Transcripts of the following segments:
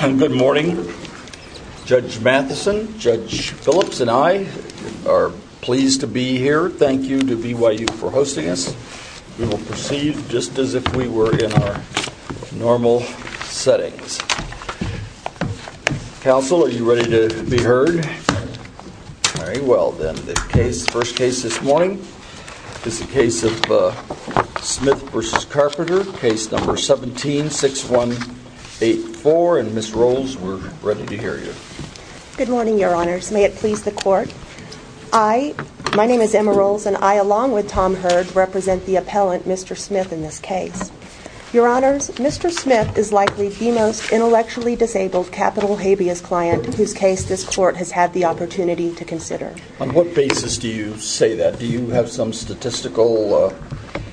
Good morning. Judge Matheson, Judge Phillips and I are pleased to be here. Thank you to BYU for hosting us. We will proceed just as if we were in our normal settings. Counsel, are you ready to be heard? Very well, then. The first case this morning is the case of Smith v. Carpenter, case number 17-6184. Ms. Rolls, we're ready to hear you. Emma Rolls Good morning, Your Honors. May it please the Court. My name is Emma Rolls and I, along with Tom Hurd, represent the appellant, Mr. Smith, in this case. Your Honors, Mr. Smith is likely the most intellectually disabled capital habeas client whose case this Court has had the opportunity to consider. On what basis do you say that? Do you have some statistical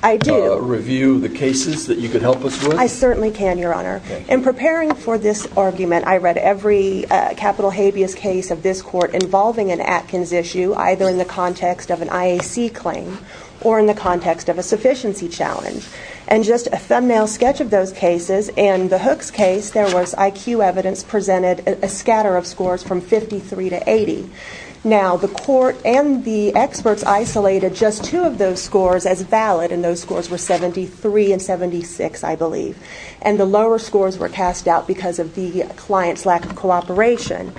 review of the cases that you could help us with? I certainly can, Your Honor. In preparing for this argument, I read every capital habeas case of this Court involving an Atkins issue, either in the context of an IAC claim or in the context of a sufficiency challenge. And just a thumbnail sketch of those cases, in the Hooks case, there was IQ evidence presented, a scatter of scores from 53 to 80. Now, the Court and the experts isolated just two of those scores as valid, and those scores were 73 and 76, I believe. And the lower scores were cast out because of the client's lack of cooperation.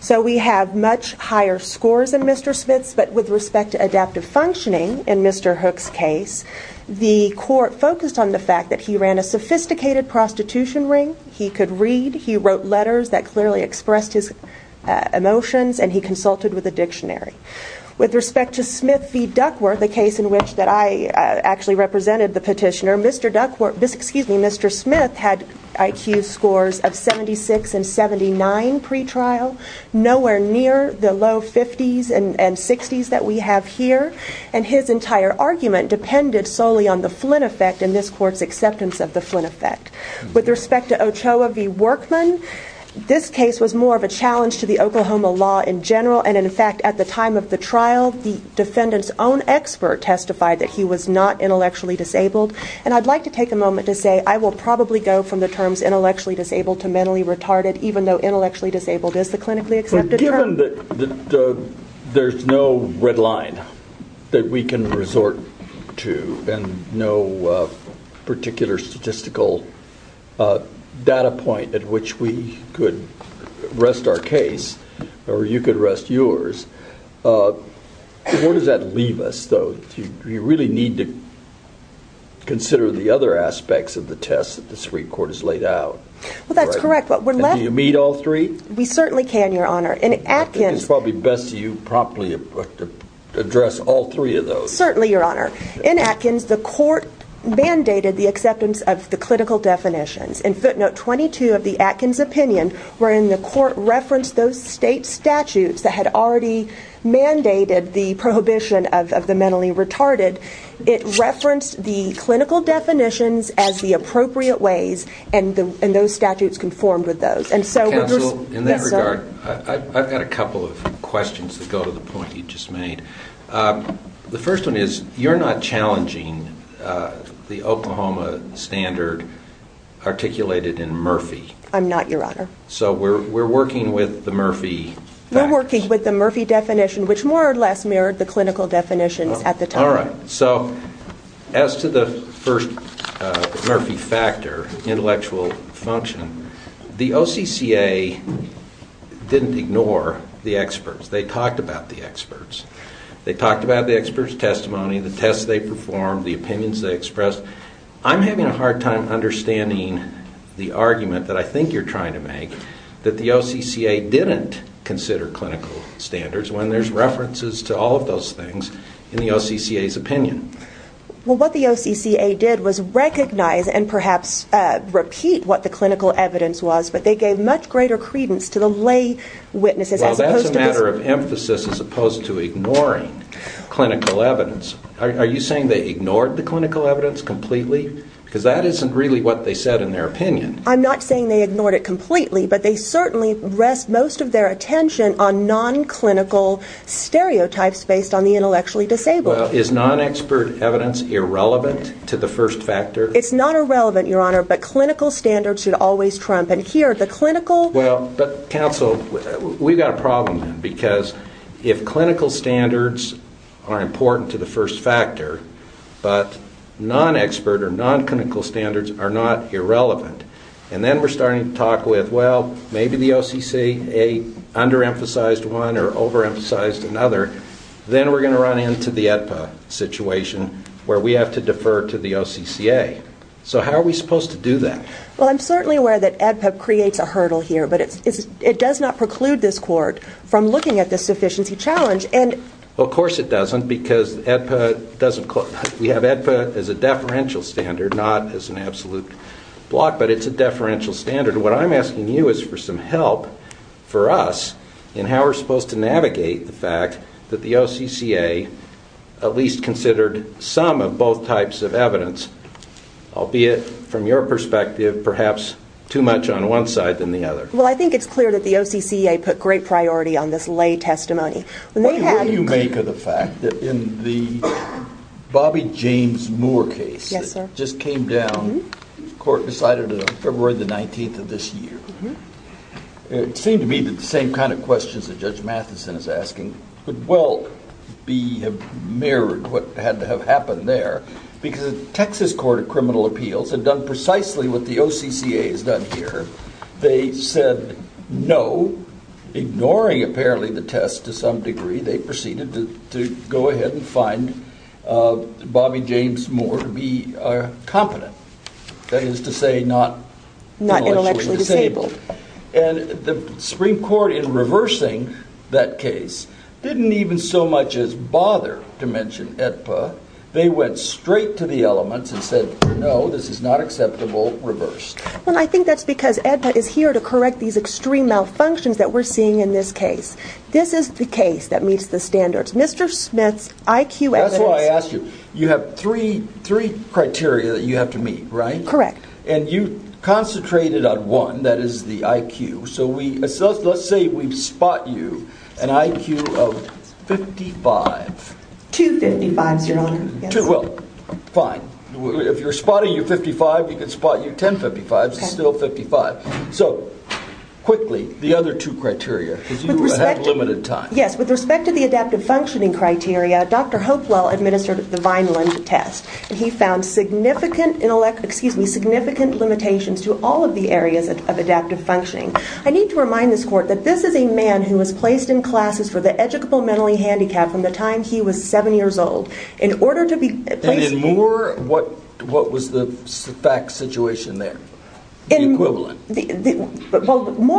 So we have much higher scores in Mr. Smith's, but with respect to adaptive functioning in Mr. Hooks' case, the Court focused on the fact that he ran a sophisticated prostitution ring, he could read, he wrote letters that clearly expressed his emotions, and he consulted with a dictionary. With respect to Smith v. Duckworth, the case in which that I actually represented the petitioner, Mr. Smith had IQ scores of 76 and 79 pretrial, nowhere near the low 50s and 60s that we have here, and his entire argument depended solely on the Flynn effect and this Court's acceptance of the Flynn effect. With respect to Ochoa v. Workman, this case was more of a challenge to the Oklahoma law in general, and in fact, at the time of the trial, the defendant's own expert testified that he was not intellectually disabled. And I'd like to take a moment to say I will probably go from the terms intellectually disabled to mentally retarded, even though intellectually disabled is the clinically accepted term. But given that there's no red line that we can resort to and no particular statistical data point at which we could rest our case, or you could rest yours, where does that leave us, though? Do you really need to consider the other aspects of the tests the Supreme Court has laid out? Well, that's correct. Do you meet all three? We certainly can, Your Honor. I think it's probably best to you promptly address all three of those. Certainly, Your Honor. In Atkins, the Court mandated the acceptance of the clinical definitions. In footnote 22 of the Atkins opinion, wherein the Court referenced those state statutes that had already mandated the prohibition of the mentally retarded, it referenced the clinical definitions as the appropriate ways, and those statutes conformed with those. Counsel, in that regard, I've got a couple of questions that go to the point you just made. The first one is, you're not challenging the Oklahoma standard articulated in Murphy. I'm not, Your Honor. So we're working with the Murphy facts. We're working with the Murphy definition, which more or less mirrored the clinical definitions at the time. All right. So as to the first Murphy factor, intellectual function, the OCCA didn't ignore the experts. They talked about the experts. They talked about the experts' testimony, the tests they performed, the opinions they expressed. I'm having a hard time understanding the argument that I think you're trying to make, that the OCCA didn't consider clinical standards when there's references to all of those things in the OCCA's opinion. Well, what the OCCA did was recognize and perhaps repeat what the clinical evidence was, but they gave much greater credence to the lay witnesses as opposed to... Well, that's a matter of emphasis as opposed to ignoring clinical evidence. Are you saying they ignored the clinical evidence completely? Because that isn't really what they said in their opinion. I'm not saying they ignored it based on the intellectually disabled. Well, is non-expert evidence irrelevant to the first factor? It's not irrelevant, Your Honor, but clinical standards should always trump. And here, the clinical... Well, but counsel, we've got a problem because if clinical standards are important to the first factor, but non-expert or non-clinical standards are not irrelevant, and then we're starting to talk with, well, maybe the OCCA under-emphasized one or over-emphasized another, then we're going to run into the AEDPA situation where we have to defer to the OCCA. So how are we supposed to do that? Well, I'm certainly aware that AEDPA creates a hurdle here, but it does not preclude this court from looking at this sufficiency challenge and... Of course it doesn't because AEDPA doesn't... We have AEDPA as a deferential standard, not as an absolute block, but it's a deferential standard. What I'm asking you is for some help for us in how we're supposed to navigate the fact that the OCCA at least considered some of both types of evidence, albeit from your perspective, perhaps too much on one side than the other. Well, I think it's clear that the OCCA put great priority on this lay testimony. When they had... What do you make of the fact that in the Bobby James Moore case that just came down, the court decided on Judge Matheson is asking could well have mirrored what had to have happened there because the Texas Court of Criminal Appeals had done precisely what the OCCA has done here. They said no, ignoring apparently the test to some degree, they proceeded to go ahead and find Bobby James Moore to be competent, that is to say not intellectually disabled. And the Supreme Court in reversing that case didn't even so much as bother to mention AEDPA. They went straight to the elements and said no, this is not acceptable, reverse. Well, I think that's because AEDPA is here to correct these extreme malfunctions that we're seeing in this case. This is the case that meets the standards. Mr. Smith's IQ evidence... That's why I asked you. You have three criteria that you have to meet, right? Correct. And you concentrated on one, that is the IQ. So let's say we spot you an IQ of 55. Two 55s, your honor. Well, fine. If you're spotting your 55, we can spot you 10 55s, still 55. So quickly, the other two criteria because you have limited time. Yes, with respect to the adaptive functioning criteria, Dr. Hopewell administered the Vineland test and he found significant limitations to all of the areas of adaptive functioning. I need to remind this court that this is a man who was placed in classes for the educable mentally handicapped from the time he was seven years old. In order to be placed... And in Moore, what was the fact situation there? Moore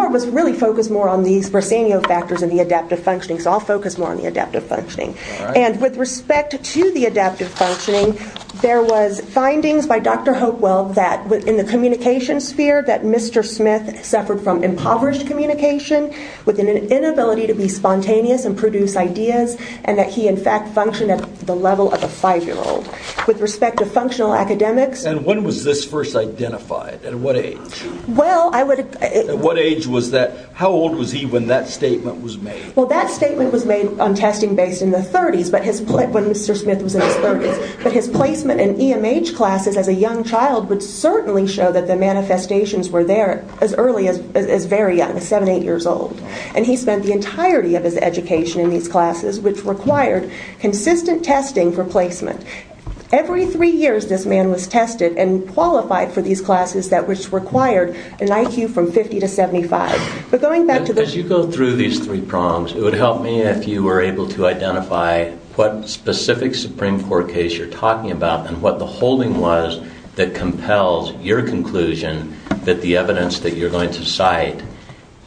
was really focused more on these Bresenio factors and the adaptive functioning. So I'll focus more on the adaptive functioning. And with respect to the adaptive functioning, there was findings by Dr. Hopewell that in the communication sphere that Mr. Smith suffered from impoverished communication with an inability to be spontaneous and produce ideas and that he in fact functioned at the level of a five-year-old. With respect to functional academics... And when was this first identified? At what age? Well, I would... At what age was that? How old was he when that statement was made? Well, that statement was made on testing based in the 30s, but his... When Mr. Smith was in his 30s. But his placement in EMH classes as a young child would certainly show that the manifestations were there as early as very young, seven, eight years old. And he spent the entirety of his education in these classes, which required consistent testing for placement. Every three years this man was tested and qualified for these classes that was required an IQ from 50 to 75. But going back to the... As you go through these three prongs, it would help me if you were able to identify what specific Supreme Court case you're talking about and what the holding was that compels your conclusion that the evidence that you're going to cite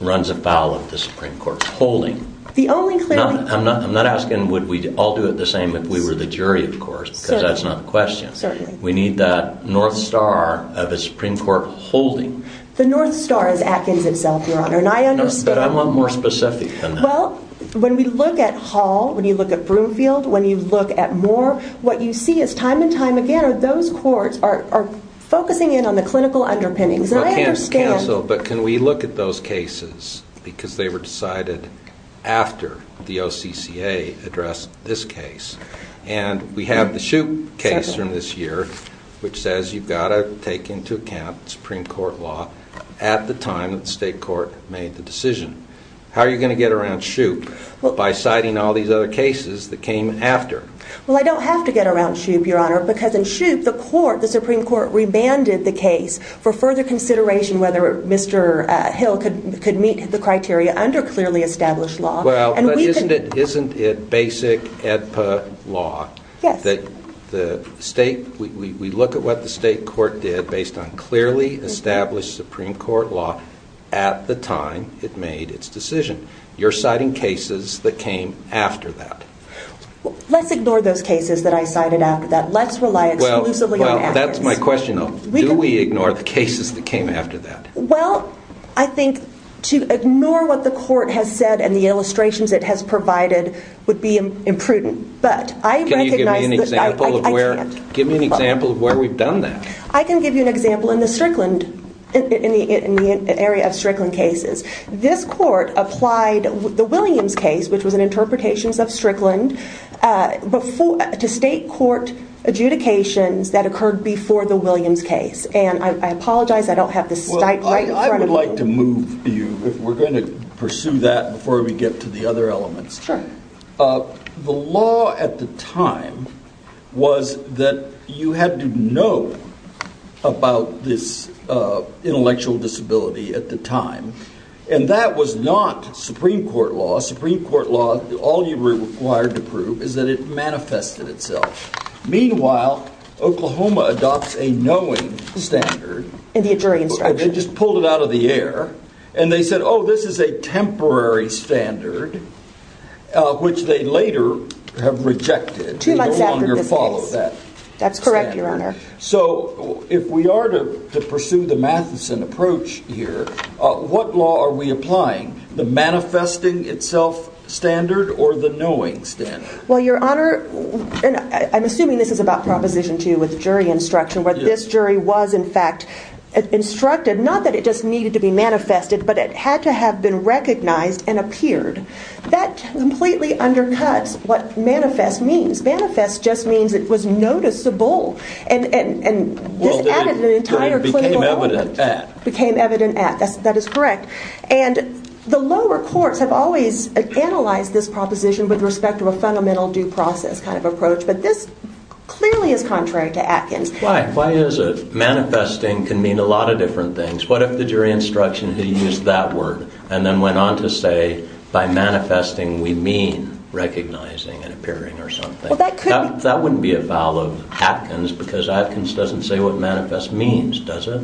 runs afoul of the Supreme Court holding. The only clear... I'm not asking would we all do it the same if we were the jury, of course, because that's not the question. Certainly. We need that north star of the Supreme Court holding. The north star is Atkins itself, Your Honor. And I understand... But I want more specific than that. Well, when we look at Hall, when you look at Broomfield, when you look at Moore, what you see is time and time again are those courts are focusing in on the clinical underpinnings. And I understand... But can we look at those cases because they were decided after the OCCA addressed this case. And we have the Shoup case from this year, which says you've got to take into account Supreme Court law at the time that the state court made the decision. How are you going to get around Shoup by citing all these other cases that came after? Well, I don't have to get around Shoup, Your Honor, because in Shoup, the Supreme Court remanded the case for further consideration whether Mr. Hill could meet the criteria under clearly established law. Well, but isn't it basic EDPA law that we look at what the state court did based on clearly established Supreme Court law at the time it made its decision? You're citing cases that came after that. Let's ignore those cases that I cited after that. Let's rely exclusively on... Well, that's my question though. Do we ignore the cases that came after that? Well, I think to ignore what the court has said and the illustrations it has provided would be imprudent. But I recognize... Can you give me an example of where we've done that? I can give you an example in the area of Strickland cases. This court applied the Williams case, which was an interpretations of Strickland, to state court adjudications that occurred before the Williams case. And I apologize, I don't have the stipe right in front of me. Well, I would like to move you if we're going to pursue that before we get to the other elements. The law at the time was that you had to know about this intellectual disability at the time. And that was not Supreme Court law. Supreme Court law, all you were required to prove is that it manifested itself. Meanwhile, Oklahoma adopts a knowing standard. And they just pulled it out of the air and they said, oh, this is a temporary standard, which they later have rejected and no longer follow that. That's correct, Your Honor. So if we are to pursue the Matheson approach here, what law are we applying? The manifesting itself standard or the knowing standard? Well, Your Honor, I'm assuming this is about Proposition 2 with jury instruction, where this jury was, in fact, instructed not that it just needed to be manifested, but it had to have been recognized and appeared. That completely undercuts what manifest means. Manifest just means it was noticeable. And this added an entire clinical argument. Well, it became evident at. Became evident at. That is correct. And the lower courts have always analyzed this proposition with respect to a fundamental due process kind of approach. But this clearly is contrary to Atkins. Why? Why is it? Manifesting can mean a lot of different things. What if the jury instruction, he used that word and then went on to say, by manifesting, we mean recognizing and appearing or something? That wouldn't be a foul of Atkins because Atkins doesn't say what manifest means, does it?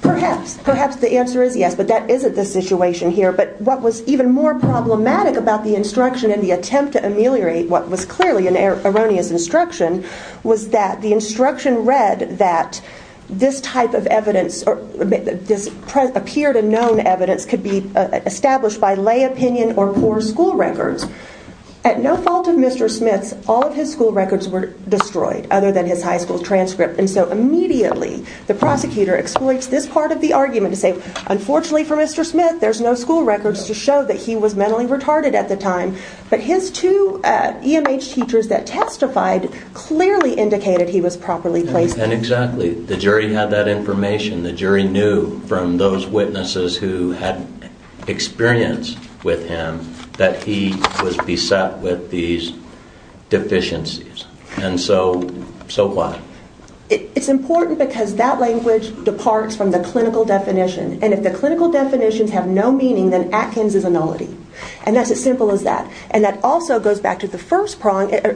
Perhaps. Perhaps the answer is yes, but that isn't the situation here. But what was even more problematic about the instruction and the attempt to ameliorate what was clearly an erroneous instruction was that the instruction read that this type of evidence or this appeared and known evidence could be established by lay opinion or poor school records. At no fault of Mr. Smith's, all of his school records were destroyed other than his high school transcript. And so immediately the prosecutor exploits this part of the argument to say, unfortunately for Mr. Smith, there's no records to show that he was mentally retarded at the time. But his two EMH teachers that testified clearly indicated he was properly placed. And exactly. The jury had that information. The jury knew from those witnesses who had experience with him that he was beset with these deficiencies. And so why? It's important because that language departs from the clinical definition. And if the Atkins is a nullity. And that's as simple as that. And that also goes back to the first proposition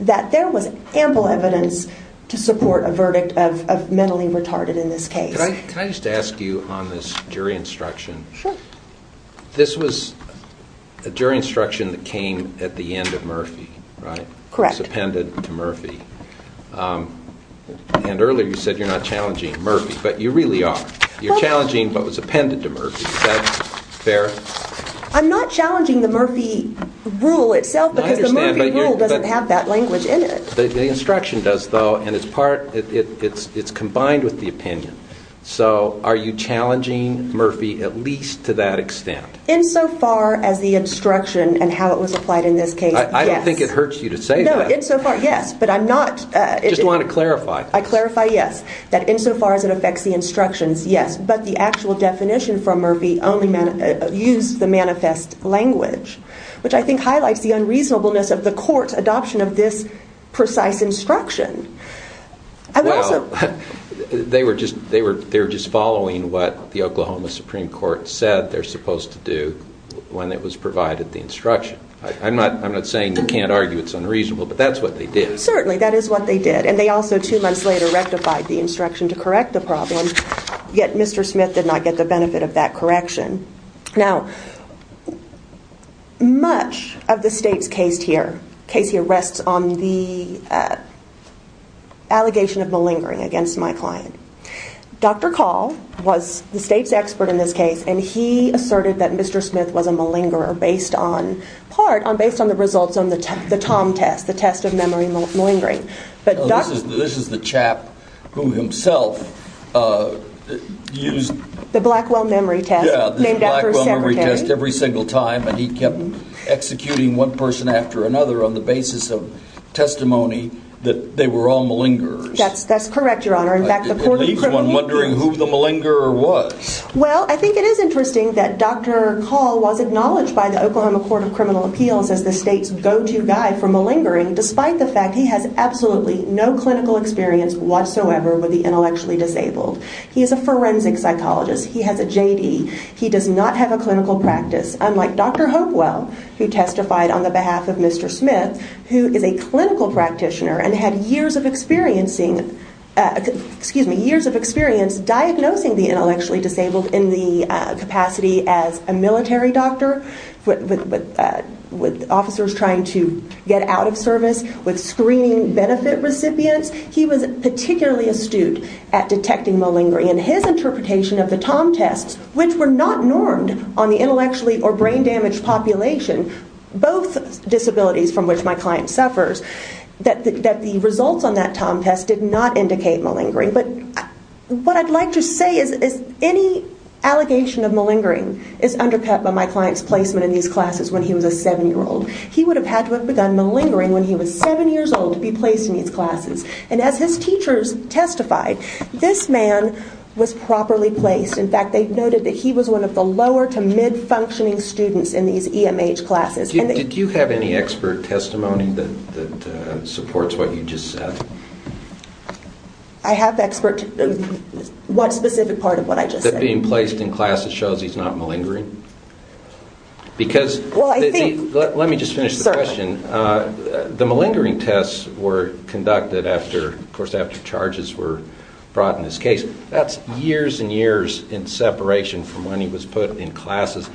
that there was ample evidence to support a verdict of mentally retarded in this case. Can I just ask you on this jury instruction, this was a jury instruction that came at the end of Murphy, right? Correct. It was appended to Murphy. And earlier you said you're not challenging Murphy, but you really are. You're challenging what was appended to Murphy. Is that fair? I'm not challenging the Murphy rule itself because the Murphy rule doesn't have that language in it. The instruction does though. And it's part, it's combined with the opinion. So are you challenging Murphy at least to that extent? Insofar as the instruction and how it was applied in this case, yes. I don't think it hurts you to say that. No, insofar, yes. But I'm just wanting to clarify. I clarify, yes. That insofar as it affects the instructions, yes. But the actual definition from Murphy only used the manifest language, which I think highlights the unreasonableness of the court's adoption of this precise instruction. They were just following what the Oklahoma Supreme Court said they're supposed to do when it was provided the instruction. I'm not saying you can't argue it's unreasonable, but that's what they did. Certainly, that is what they did. And they also two months later rectified the instruction to correct the problem, yet Mr. Smith did not get the benefit of that correction. Now, much of the state's case here rests on the allegation of malingering against my client. Dr. Call was the state's expert in this case, and he asserted that Mr. Smith was malingering. This is the chap who himself used the Blackwell memory test every single time, and he kept executing one person after another on the basis of testimony that they were all malingerers. That's correct, Your Honor. In fact, the court was wondering who the malingerer was. Well, I think it is interesting that Dr. Call was acknowledged by the Oklahoma Court of Criminal Despite the fact he has absolutely no clinical experience whatsoever with the intellectually disabled. He is a forensic psychologist. He has a JD. He does not have a clinical practice, unlike Dr. Hopewell, who testified on the behalf of Mr. Smith, who is a clinical practitioner and had years of experience diagnosing the intellectually disabled in the capacity as a with screening benefit recipients. He was particularly astute at detecting malingering. And his interpretation of the Tom tests, which were not normed on the intellectually or brain damaged population, both disabilities from which my client suffers, that the results on that Tom test did not indicate malingering. But what I'd like to say is any allegation of malingering is undercut by my client's placement in these classes when he was a seven-year-old. He would have had to have begun malingering when he was seven years old to be placed in these classes. And as his teachers testified, this man was properly placed. In fact, they noted that he was one of the lower to mid-functioning students in these EMH classes. Did you have any expert testimony that supports what you just said? I have expert... What specific part of what I just said? That being placed in classes shows he's not malingering? Because... Well, I think... Let me just finish the question. The malingering tests were conducted after, of course, after charges were brought in this case. That's years and years in separation from when he was put in classes.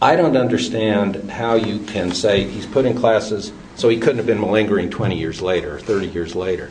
I don't understand how you can say he's put in classes so he couldn't have been malingering 20 years later or 30 years later.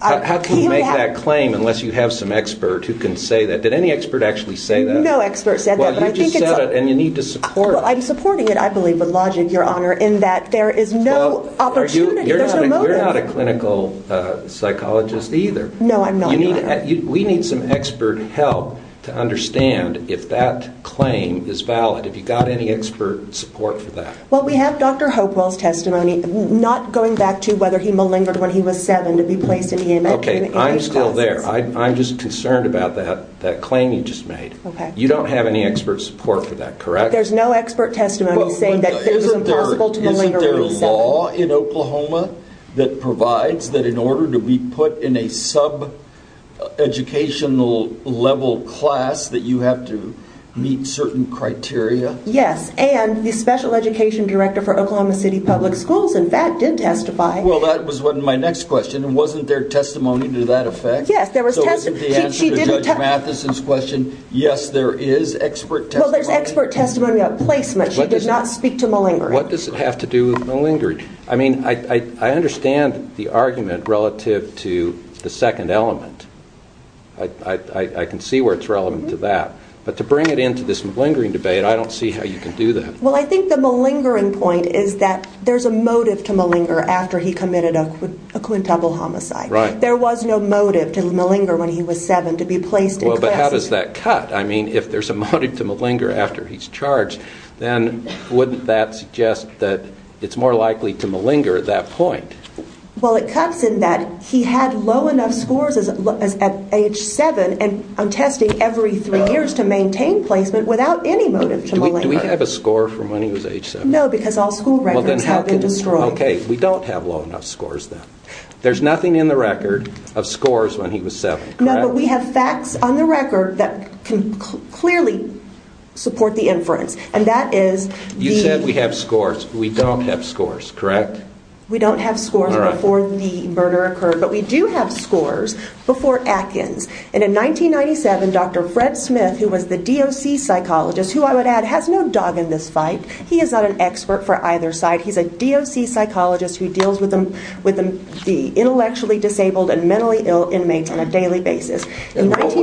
How can you make that claim unless you have some expert who can say that? Did any expert actually say that? No expert said that, but I think it's... Well, you just said it and you need to support... I'm supporting it, I believe, with logic, Your Honor, in that there is no opportunity. There's no motive. You're not a clinical psychologist either. No, I'm not, Your Honor. We need some expert help to understand if that claim is valid. Have you got any expert support for that? Well, we have Dr. Hopewell's testimony, not going back to whether he malingered when he was seven to be placed in EMH classes. Okay, I'm still there. I'm just concerned about that claim you just made. Okay. You don't have any expert support for that, correct? There's no expert testimony saying that it was impossible to malinger when he was seven. Isn't there a law in Oklahoma that provides that in order to be put in a subeducational level class that you have to meet certain criteria? Yes, and the special education director for Oklahoma City Public Schools, in fact, did testify. Well, that was my next question. Wasn't there testimony to that effect? Yes, there was testimony. So isn't the answer to Judge Matheson's question, yes, there is expert testimony? There's expert testimony about placement. She did not speak to malingering. What does it have to do with malingering? I mean, I understand the argument relative to the second element. I can see where it's relevant to that, but to bring it into this malingering debate, I don't see how you can do that. Well, I think the malingering point is that there's a motive to malinger after he committed a quintuple homicide. Right. There was no motive to malinger when he was seven to be placed in classes. But how does that cut? I mean, if there's a motive to malinger after he's charged, then wouldn't that suggest that it's more likely to malinger at that point? Well, it cuts in that he had low enough scores at age seven on testing every three years to maintain placement without any motive to malinger. Do we have a score from when he was age seven? No, because all school records have been destroyed. Okay, we don't have low enough scores then. There's nothing in the record of scores when he was seven, correct? No, but we have facts on the record that can clearly support the inference, and that is the- You said we have scores. We don't have scores, correct? We don't have scores before the murder occurred, but we do have scores before Atkins. And in 1997, Dr. Fred Smith, who was the DOC psychologist, who I would add has no dog in this fight. He is not an expert for either side. He's a DOC psychologist who deals with the intellectually disabled and mentally ill inmates on a daily basis. And what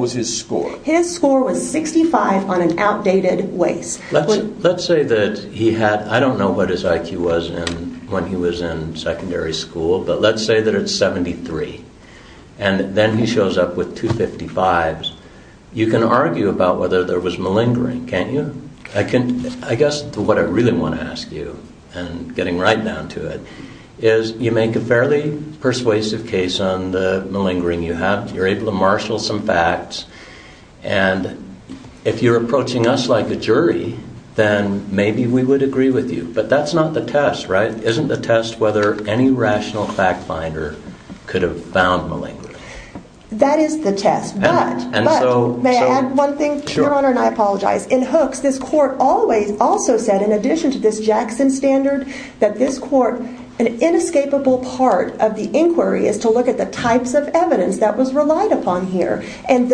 was his score? His score was 65 on an outdated waist. Let's say that he had, I don't know what his IQ was when he was in secondary school, but let's say that it's 73, and then he shows up with 255s. You can argue about whether there was malingering, can't you? I guess what I really want to ask you, and getting right down to it, is you make a fairly persuasive case on the malingering you have. You're able to marshal some facts, and if you're approaching us like a jury, then maybe we would agree with you. But that's not the test, right? Isn't the test whether any rational fact finder could have found malingering? That is the test, but may I add one thing, Your Honor, and I apologize. In Hooks, this court, an inescapable part of the inquiry is to look at the types of evidence that was relied upon here. And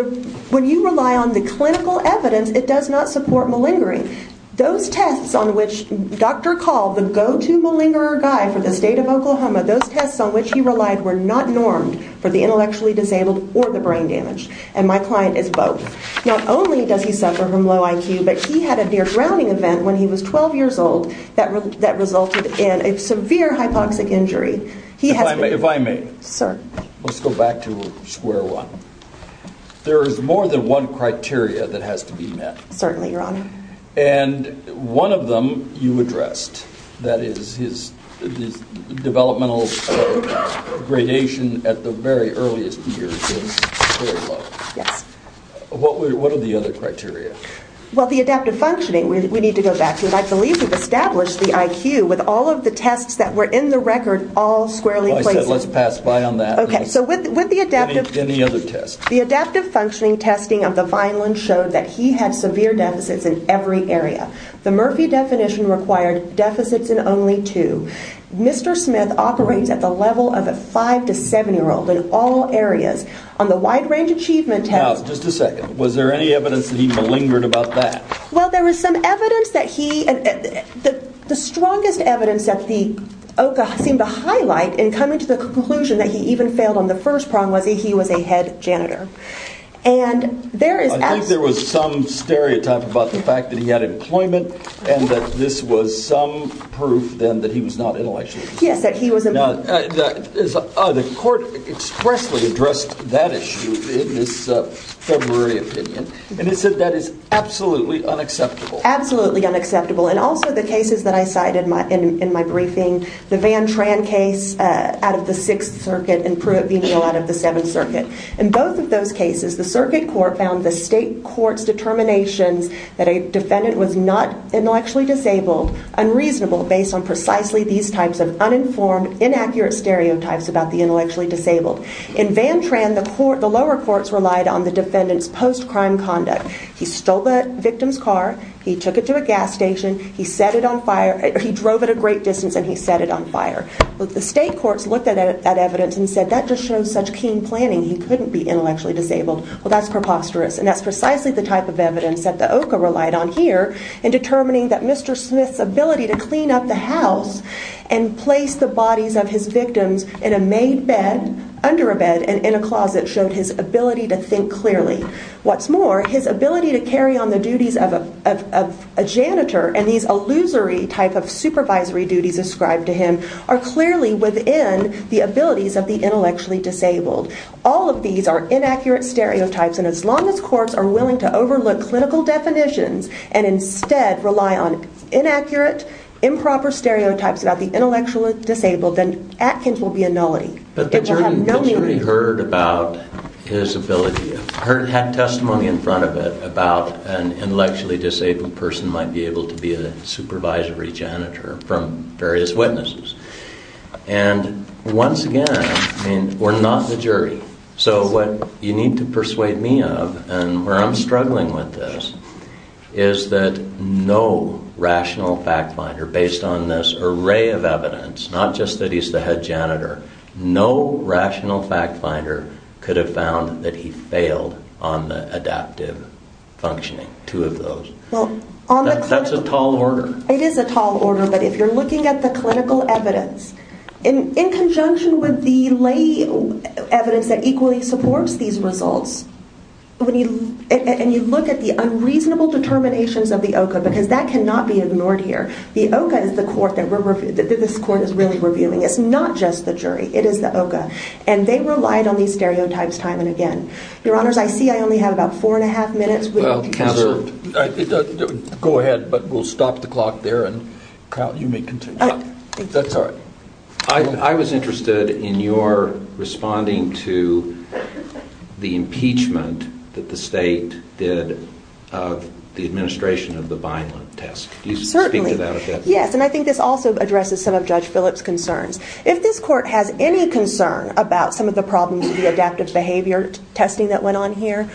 when you rely on the clinical evidence, it does not support malingering. Those tests on which Dr. Call, the go-to malingerer guy for the state of Oklahoma, those tests on which he relied were not normed for the intellectually disabled or the brain damaged, and my client is both. Not only does he suffer from low IQ, but he had a near-drowning event when he was 12 years old that resulted in a severe hypoxic injury. If I may, let's go back to square one. There is more than one criteria that has to be met. Certainly, Your Honor. And one of them you addressed, that is his developmental gradation at the very earliest years is very low. Yes. What are the other criteria? Well, the adaptive functioning. We need to go back to it. I believe we've established the IQ with all of the tests that were in the record all squarely placed. Well, I said let's pass by on that. Okay. So with the adaptive... Any other tests? The adaptive functioning testing of the Vineland showed that he had severe deficits in every area. The Murphy definition required deficits in only two. Mr. Smith operates at the level of a 5- to 7-year-old in all areas. On the wide-range achievement test... Now, just a second. Was there any evidence that he malingered about that? Well, there was some evidence that he... The strongest evidence that the OCA seemed to highlight in coming to the conclusion that he even failed on the first prong was that he was a head janitor. And there is... I think there was some stereotype about the fact that he had employment and that this was some proof then that he was not intellectual. Yes, that he was... The court expressly addressed that issue in this February opinion, and it said that is absolutely unacceptable. Absolutely unacceptable. And also the cases that I cited in my briefing, the Van Tran case out of the Sixth Circuit and Pruitt-Venial out of the Seventh Circuit. In both of those cases, the circuit court found the state court's determinations that a defendant was not In Van Tran, the lower courts relied on the defendant's post-crime conduct. He stole the victim's car, he took it to a gas station, he set it on fire... He drove it a great distance and he set it on fire. The state courts looked at that evidence and said, that just shows such keen planning. He couldn't be intellectually disabled. Well, that's preposterous. And that's precisely the type of evidence that the OCA relied on here in determining that Mr. Smith's ability to clean up the house and place the bodies of his victims in a made bed, under a bed and in a closet showed his ability to think clearly. What's more, his ability to carry on the duties of a janitor and these illusory type of supervisory duties ascribed to him are clearly within the abilities of the intellectually disabled. All of these are inaccurate stereotypes, and as long as courts are willing to overlook the clinical definitions and instead rely on inaccurate, improper stereotypes about the intellectually disabled, then Atkins will be a nullity. But the jury heard about his ability, had testimony in front of it about an intellectually disabled person might be able to be a supervisory janitor from various witnesses. And once again, we're not the jury. So what you need to persuade me of, and where I'm struggling with this, is that no rational fact finder, based on this array of evidence, not just that he's the head janitor, no rational fact finder could have found that he failed on the adaptive functioning, two of those. That's a tall order. It is a tall order, but if you're looking at the clinical evidence in conjunction with the lay evidence that equally supports these results, and you look at the unreasonable determinations of the OCA, because that cannot be ignored here, the OCA is the court that this court is really reviewing. It's not just the jury, it is the OCA. And they relied on these stereotypes time and again. Your honors, I see I only have about four and a half minutes. Well, go ahead, but we'll stop the clock there and Kyle, you may continue. That's all right. I was interested in your responding to the impeachment that the state did of the administration of the Vineland test. Certainly. Yes, and I think this also addresses some of Judge Phillips' concerns. If this court has any concern about some of the problems with the adaptive behavior testing that went on here,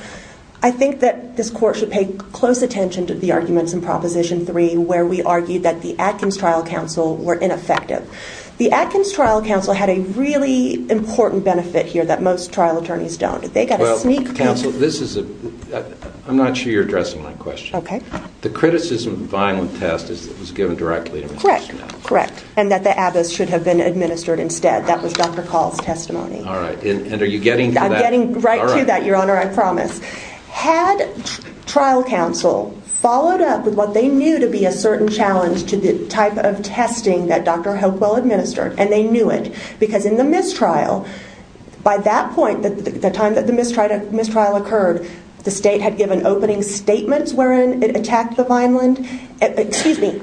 I think that this court should pay close attention to the arguments in proposition three, where we argued that the Atkins trial counsel were ineffective. The Atkins trial counsel had a really important benefit here that most trial attorneys don't. They got a sneak- Well, counsel, I'm not sure you're addressing my question. Okay. The criticism of the Vineland test is that it was given directly to Mr. Smith. Correct, correct. And that the Abbott's should have been administered instead. That was Dr. Call's testimony. All right. And are you getting to that? I'm getting right to that, your honor, I promise. Had trial counsel followed up with what they knew to be a certain challenge to the type of testing that Dr. Hopewell administered, and they knew it, because in the mistrial, by that point, the time that the mistrial occurred, the state had given opening statements wherein it attacked the Vineland. Excuse me,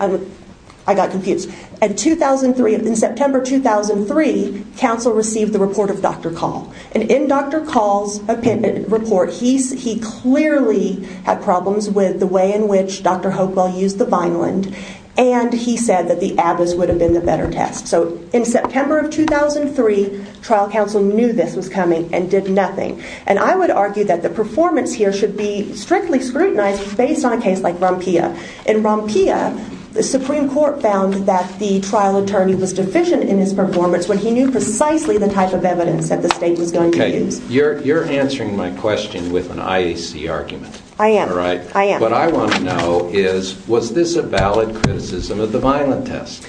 I got confused. In September 2003, counsel received the report of Dr. Call. And in Dr. Call's report, he clearly had problems with the way in which Dr. Hopewell used the Vineland, and he said that the Abbott's would have been the better test. So in September of 2003, trial counsel knew this was coming and did nothing. And I would argue that the performance here should be strictly scrutinized based on a case like Rompia. In Rompia, the Supreme Court found that the trial attorney was deficient in his performance when he knew precisely the type of evidence that the state was going to use. You're answering my question with an IAC argument. I am. All right? I am. What I want to know is, was this a valid criticism of the Vineland test?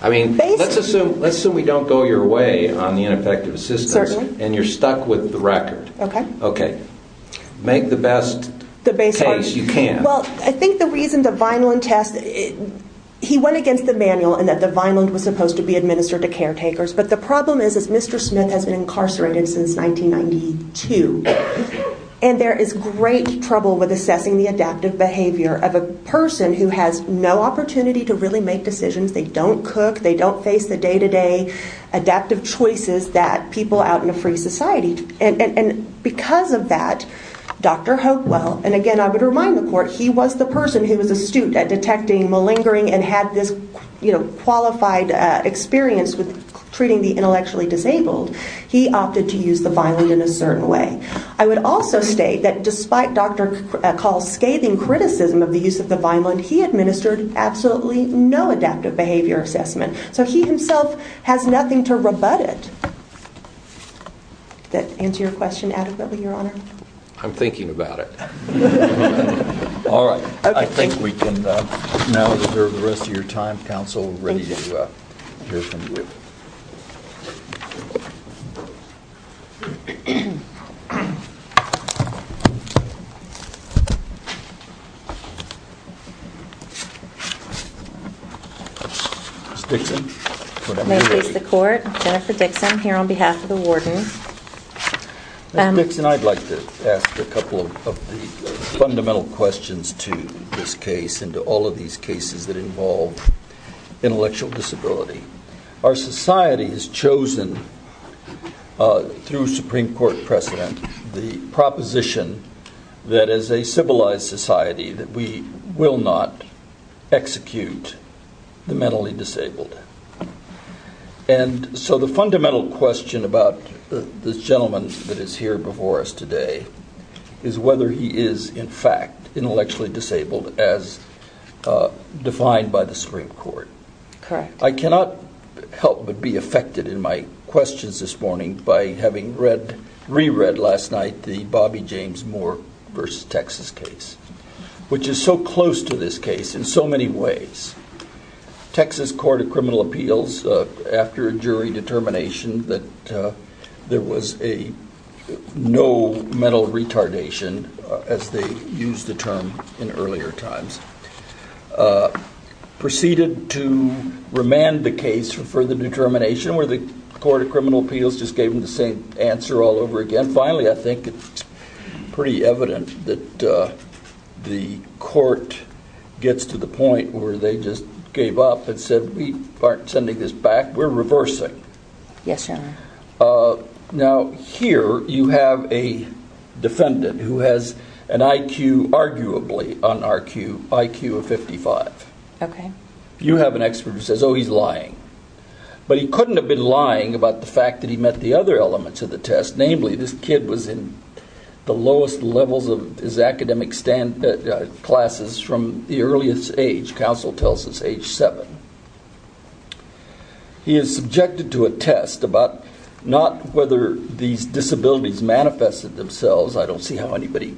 I mean, let's assume we don't go your way on the ineffective assistance. Certainly. And you're stuck with the record. Okay. Okay. Make the best case you can. Well, I think the reason the Vineland test, he went against the manual and that the Vineland was supposed to be administered to caretakers. But the problem is, is Mr. Smith has been incarcerated since 1992. And there is great trouble with assessing the adaptive behavior of a person who has no opportunity to really make decisions. They don't cook. They don't face the day-to-day adaptive choices that people out in a free society. And because of that, Dr. Hopewell, and again, I would remind the court, he was the person who was astute at detecting malingering and had this qualified experience with treating the intellectually disabled. He opted to use the Vineland in a certain way. I would also state that despite Dr. Call's scathing criticism of the use of the Vineland, he administered absolutely no adaptive behavior assessment. So he himself has nothing to rebut it. That answer your question adequately, Your Honor? I'm thinking about it. All right. I think we can now reserve the rest of your time. Counsel, we're ready to hear from you. Ms. Dixon? May I please the court? Jennifer Dixon here on behalf of the warden. Ms. Dixon, I'd like to ask a couple of the fundamental questions to this case and to all of these cases that involve intellectual disability. Our society has chosen, through Supreme Court precedent, the proposition that as a civilized society that we will not execute the mentally disabled. And so the fundamental question about the gentleman that is here before us today is whether he is, in fact, intellectually disabled as defined by the Supreme Court. Correct. I cannot help but be affected in my questions this morning by having re-read last night the Bobby James Moore v. Texas case, which is so close to this case in so many ways. Texas Court of Criminal Appeals, after a jury determination that there was a no mental retardation, as they used the term in earlier times, proceeded to remand the case for the determination where the Court of Criminal Appeals just gave them the same answer all over again. Finally, I think it's pretty evident that the court gets to the point where they just gave up and said, we aren't sending this back, we're reversing. Yes, Your Honor. Now, here you have a defendant who has an IQ, arguably, IQ of 55. OK. You have an expert who says, oh, he's lying. But he couldn't have been lying about the fact that he met the other elements of the case. His kid was in the lowest levels of his academic classes from the earliest age. Counsel tells us age seven. He is subjected to a test about not whether these disabilities manifested themselves. I don't see how anybody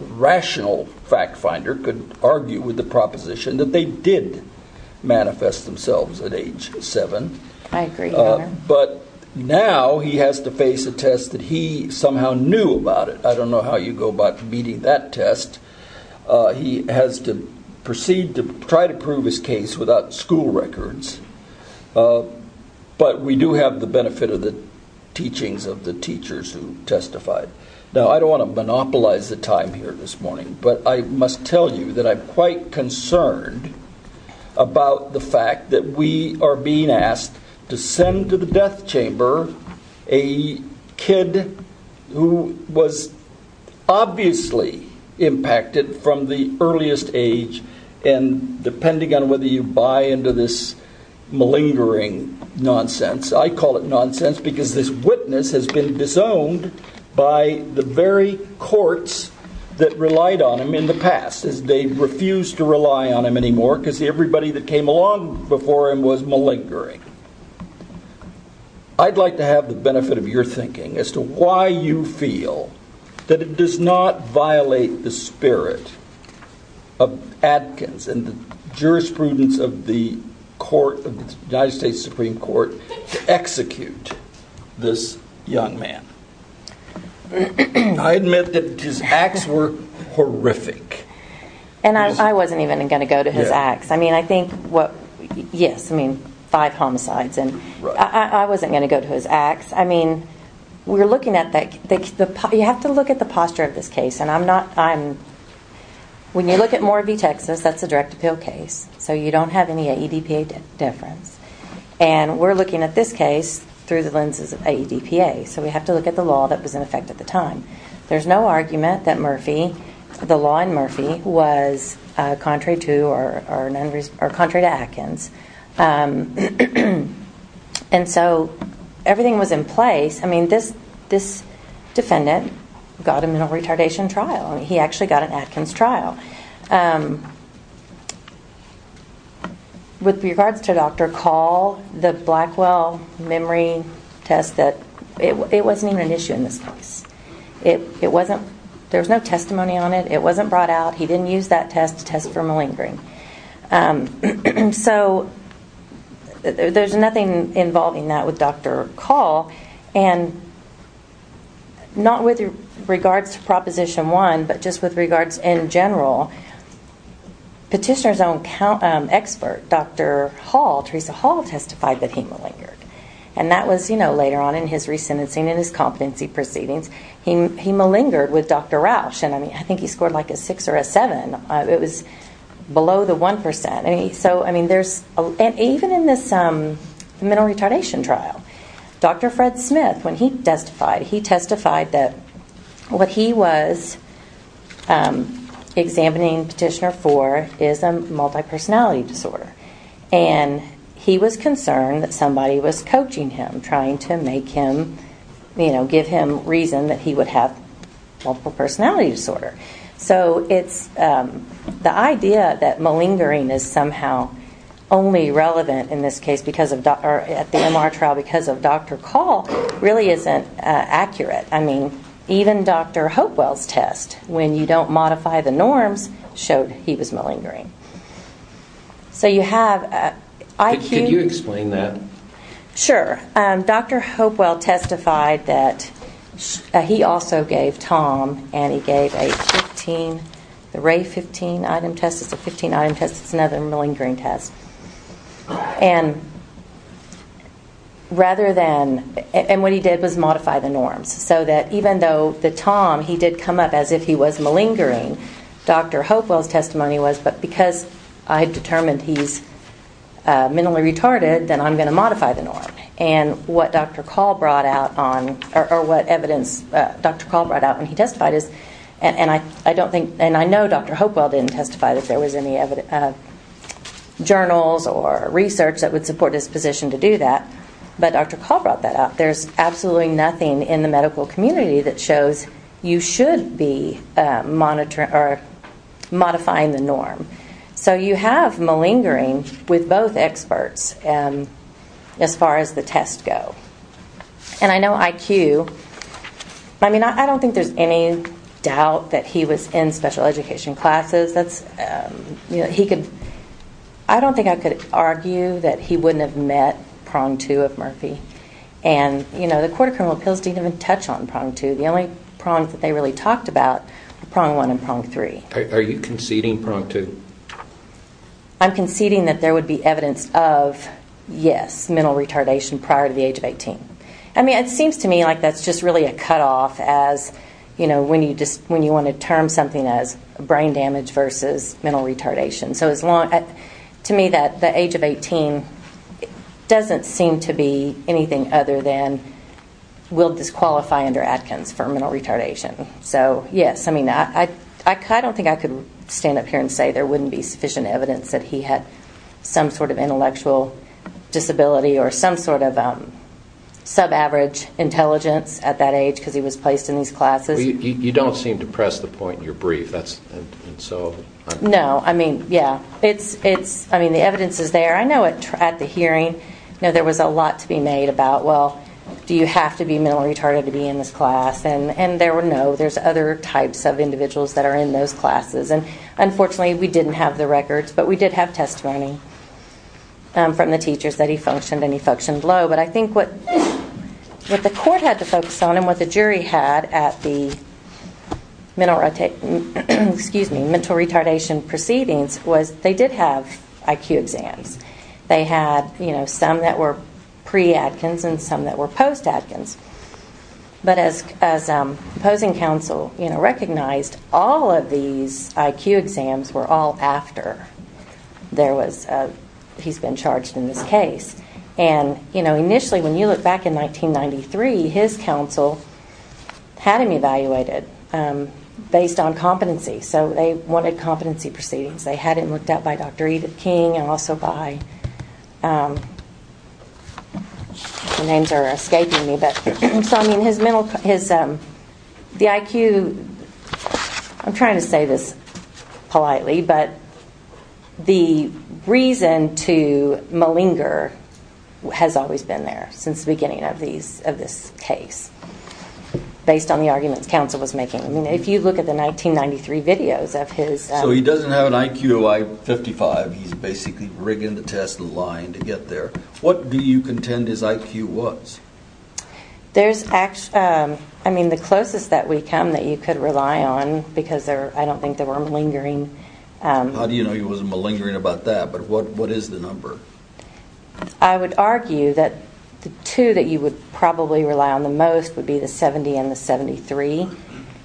rational fact finder could argue with the proposition that they I agree, Your Honor. But now he has to face a test that he somehow knew about it. I don't know how you go about meeting that test. He has to proceed to try to prove his case without school records. But we do have the benefit of the teachings of the teachers who testified. Now, I don't want to monopolize the time here this morning, but I must tell you that I'm chamber, a kid who was obviously impacted from the earliest age and depending on whether you buy into this malingering nonsense. I call it nonsense because this witness has been disowned by the very courts that relied on him in the past as they refused to rely on him anymore because everybody that came along before him was malingering. I'd like to have the benefit of your thinking as to why you feel that it does not violate the spirit of Adkins and the jurisprudence of the court of the United States Supreme Court to execute this young man. I admit that his acts were horrific. And I wasn't even going to go to his acts. I think, yes, five homicides and I wasn't going to go to his acts. You have to look at the posture of this case. And when you look at Moravie, Texas, that's a direct appeal case. So you don't have any AEDPA difference. And we're looking at this case through the lenses of AEDPA. So we have to look at the law that was in effect at the time. There's no argument that Murphy, the law in Murphy, was contrary to or contrary to Adkins. And so everything was in place. I mean, this defendant got a mental retardation trial. He actually got an Adkins trial. With regards to Dr. Call, the Blackwell memory test, it wasn't even an issue in this case. It wasn't. There was no testimony on it. It wasn't brought out. He didn't use that test to test for malingering. So there's nothing involving that with Dr. Call. And not with regards to Proposition 1, but just with regards in general. Petitioner's own expert, Dr. Hall, Teresa Hall, testified that he malingered. And that was later on in his re-sentencing and his competency proceedings. He malingered with Dr. Rausch. And I think he scored like a 6 or a 7. It was below the 1%. And even in this mental retardation trial, Dr. Fred Smith, when he testified, he testified that what he was examining Petitioner for is a multi-personality disorder. And he was concerned that somebody was coaching him, trying to give him reason that he would have multiple personality disorder. So the idea that malingering is somehow only relevant in this case at the MR trial because of Dr. Call really isn't accurate. I mean, even Dr. Hopewell's test, when you don't modify the norms, showed he was malingering. So you have IQ... Could you explain that? Sure. Dr. Hopewell testified that he also gave Tom and he gave a 15, the Ray 15 item test. It's a 15 item test. It's another malingering test. And rather than... And what he did was modify the norms. So that even though the Tom, he did come up as if he was malingering, Dr. Hopewell's testimony was, but because I determined he's mentally retarded, then I'm going to modify the norm. And what Dr. Call brought out on, or what evidence Dr. Call brought out when he testified is... And I don't think, and I know Dr. Hopewell didn't testify that there was any journals or research that would support his position to do that. But Dr. Call brought that out. There's absolutely nothing in the medical community that shows you should be modifying the norm. So you have malingering with both experts as far as the test go. And I know IQ... I mean, I don't think there's any doubt that he was in special education classes. That's... I don't think I could argue that he wouldn't have met prong two of Murphy. And the court of criminal appeals didn't even touch on prong two. The only prongs that they really talked about were prong one and prong three. Are you conceding prong two? I'm conceding that there would be evidence of, yes, mental retardation prior to the age of 18. I mean, it seems to me like that's just really a cutoff as, you know, when you want to term something as brain damage versus mental retardation. So as long... To me, that the age of 18 doesn't seem to be anything other than will disqualify under Atkins for mental retardation. So yes, I mean, I don't think I could stand up here and say there wouldn't be sufficient evidence that he had some sort of intellectual disability or some sort of sub-average intelligence at that age because he was placed in these classes. Well, you don't seem to press the point in your brief. That's... No, I mean, yeah, it's... I mean, the evidence is there. I know at the hearing, you know, there was a lot to be made about, well, do you have to be mentally retarded to be in this class? And there were no... There's other types of individuals that are in those classes. And unfortunately, we didn't have the records, but we did have testimony from the teachers that he functioned and he functioned low. But I think what the court had to focus on and what the jury had at the mental retardation proceedings was they did have IQ exams. They had, you know, some that were pre-Adkins and some that were post-Adkins. But as the opposing counsel, you know, recognized all of these IQ exams were all after there was... he's been charged in this case. And, you know, initially, when you look back in 1993, his counsel had him evaluated based on competency. So they wanted competency proceedings. They had him looked at by Dr. Edith King and also by... The names are escaping me. But so, I mean, his mental... The IQ... I'm trying to say this politely, but the reason to malinger has always been there since the beginning of these... of this case based on the arguments counsel was making. I mean, if you look at the 1993 videos of his... So he doesn't have an IQ of, like, 55. He's basically rigging the test and lying to get there. What do you contend his IQ was? There's actually... I mean, the closest that we come that you could rely on because there... I don't think there were malingering... How do you know he wasn't malingering about that? But what is the number? I would argue that the two that you would probably rely on the most would be the 70 and the 73.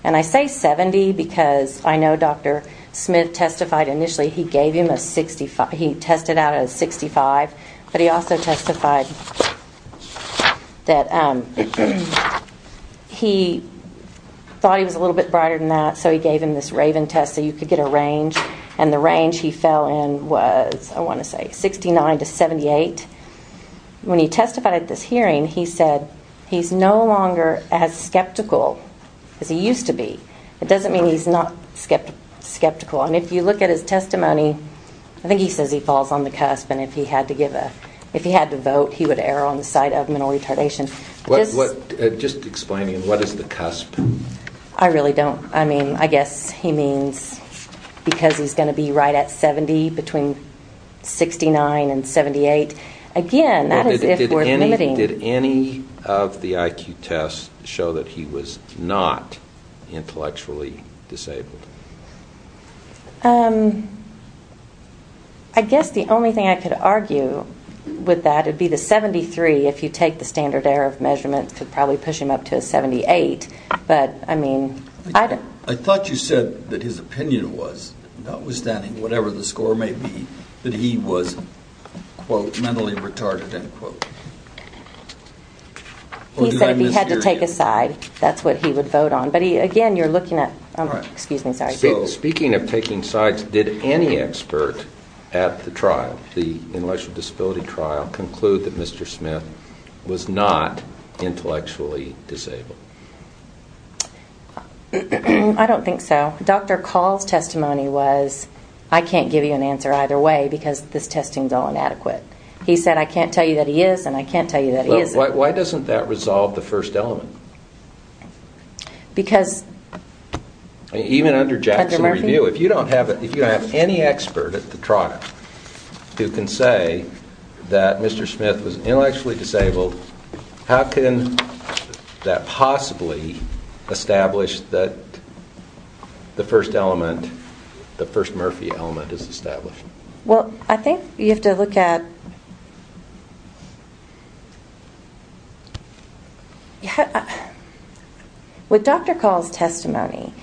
And I say 70 because I know Dr. Smith testified initially he gave him a 65... He tested out a 65, but he also testified that he thought he was a little bit brighter than that so he gave him this RAVEN test so you could get a range and the range he fell in was, I want to say, 69 to 78. When he testified at this hearing, he said he's no longer as skeptical as he used to be. It doesn't mean he's not skeptical. And if you look at his testimony, I think he says he falls on the cusp and if he had to give a... If he had to vote, he would err on the side of mental retardation. Just explaining, what is the cusp? I really don't. I mean, I guess he means because he's going to be right at 70 between 69 and 78. Again, that is if we're limiting. Did any of the IQ tests show that he was not intellectually disabled? I guess the only thing I could argue with that would be the 73, if you take the standard error of measurement could probably push him up to a 78, but I mean... I thought you said that his opinion was, notwithstanding whatever the score may be, that he was, quote, he said if he had to take a side, that's what he would vote on. But again, you're looking at... Oh, excuse me, sorry. Speaking of taking sides, did any expert at the trial, the intellectual disability trial, conclude that Mr. Smith was not intellectually disabled? I don't think so. Dr. Call's testimony was, I can't give you an answer either way because this testing is all inadequate. He said I can't tell you that he is and I can't tell you that he isn't. Why doesn't that resolve the first element? Because... Even under Jackson Review, if you don't have any expert at the trial who can say that Mr. Smith was intellectually disabled, how can that possibly establish that the first element, the first Murphy element is established? Well, I think you have to look at... With Dr. Call's testimony,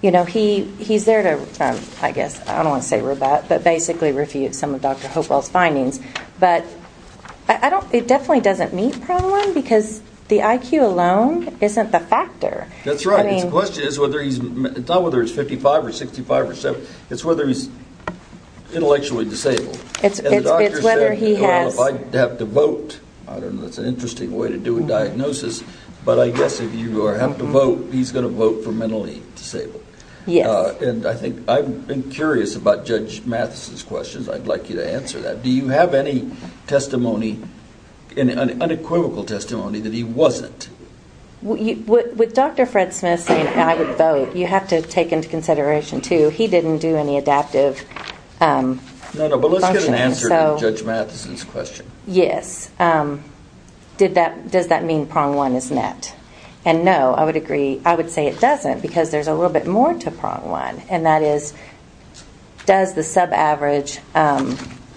he's there to, I guess, I don't want to say rebut, but basically refute some of Dr. Hopewell's findings. But it definitely doesn't meet problem because the IQ alone isn't the factor. That's right. His question is whether he's, it's not whether it's 55 or 65 or 70, it's whether he's intellectually disabled. And the doctor said, if I have to vote, I don't know, that's an interesting way to do a diagnosis, but I guess if you have to vote, he's going to vote for mentally disabled. Yes. And I've been curious about Judge Mathis's questions. I'd like you to answer that. Do you have any testimony, unequivocal testimony that he wasn't? With Dr. Fred Smith saying I would vote, you have to take into consideration too, he didn't do any adaptive... No, no, but let's get an answer to Judge Mathis's question. Yes. Does that mean prong one is net? And no, I would agree, I would say it doesn't because there's a little bit more to prong one. And that is, does the sub-average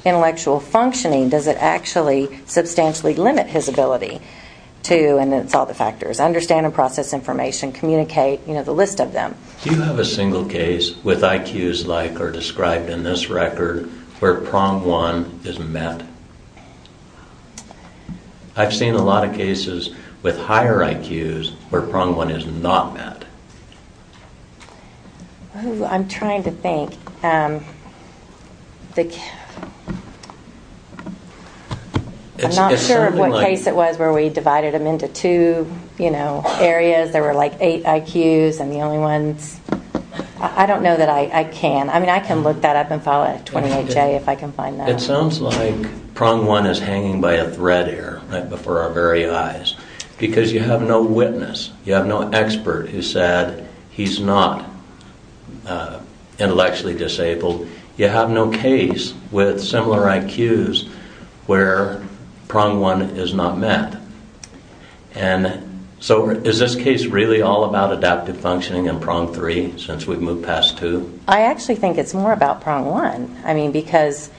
intellectual functioning, does it actually substantially limit his ability to, and it's all the factors, understand and process information, communicate, you know, the list of them. Do you have a single case with IQs like are described in this record where prong one is met? I've seen a lot of cases with higher IQs where prong one is not met. I'm trying to think. I'm not sure what case it was where we divided them into two, you know, areas, there were like eight IQs and the only ones, I don't know that I can. I mean, I can look that up and follow it at 28J if I can find that. It sounds like prong one is hanging by a thread here, right before our very eyes because you have no witness, you have no expert who said he's not intellectually disabled. You have no case with similar IQs where prong one is not met. And so is this case really all about adaptive functioning and prong three since we've moved past two? I actually think it's more about prong one. I mean, because...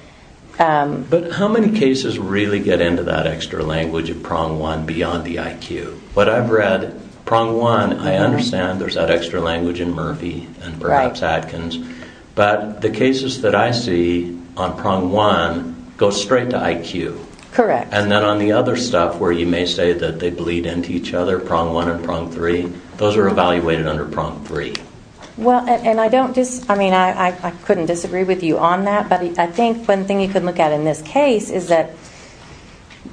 But how many cases really get into that extra language of prong one beyond the IQ? What I've read, prong one, I understand there's that extra language in Murphy and perhaps Atkins, but the cases that I see on prong one go straight to IQ. Correct. And then on the other stuff where you may say that they bleed into each other, prong one and prong three, those are evaluated under prong three. Well, and I don't just... I mean, I couldn't disagree with you on that, but I think one thing you could look at in this case is that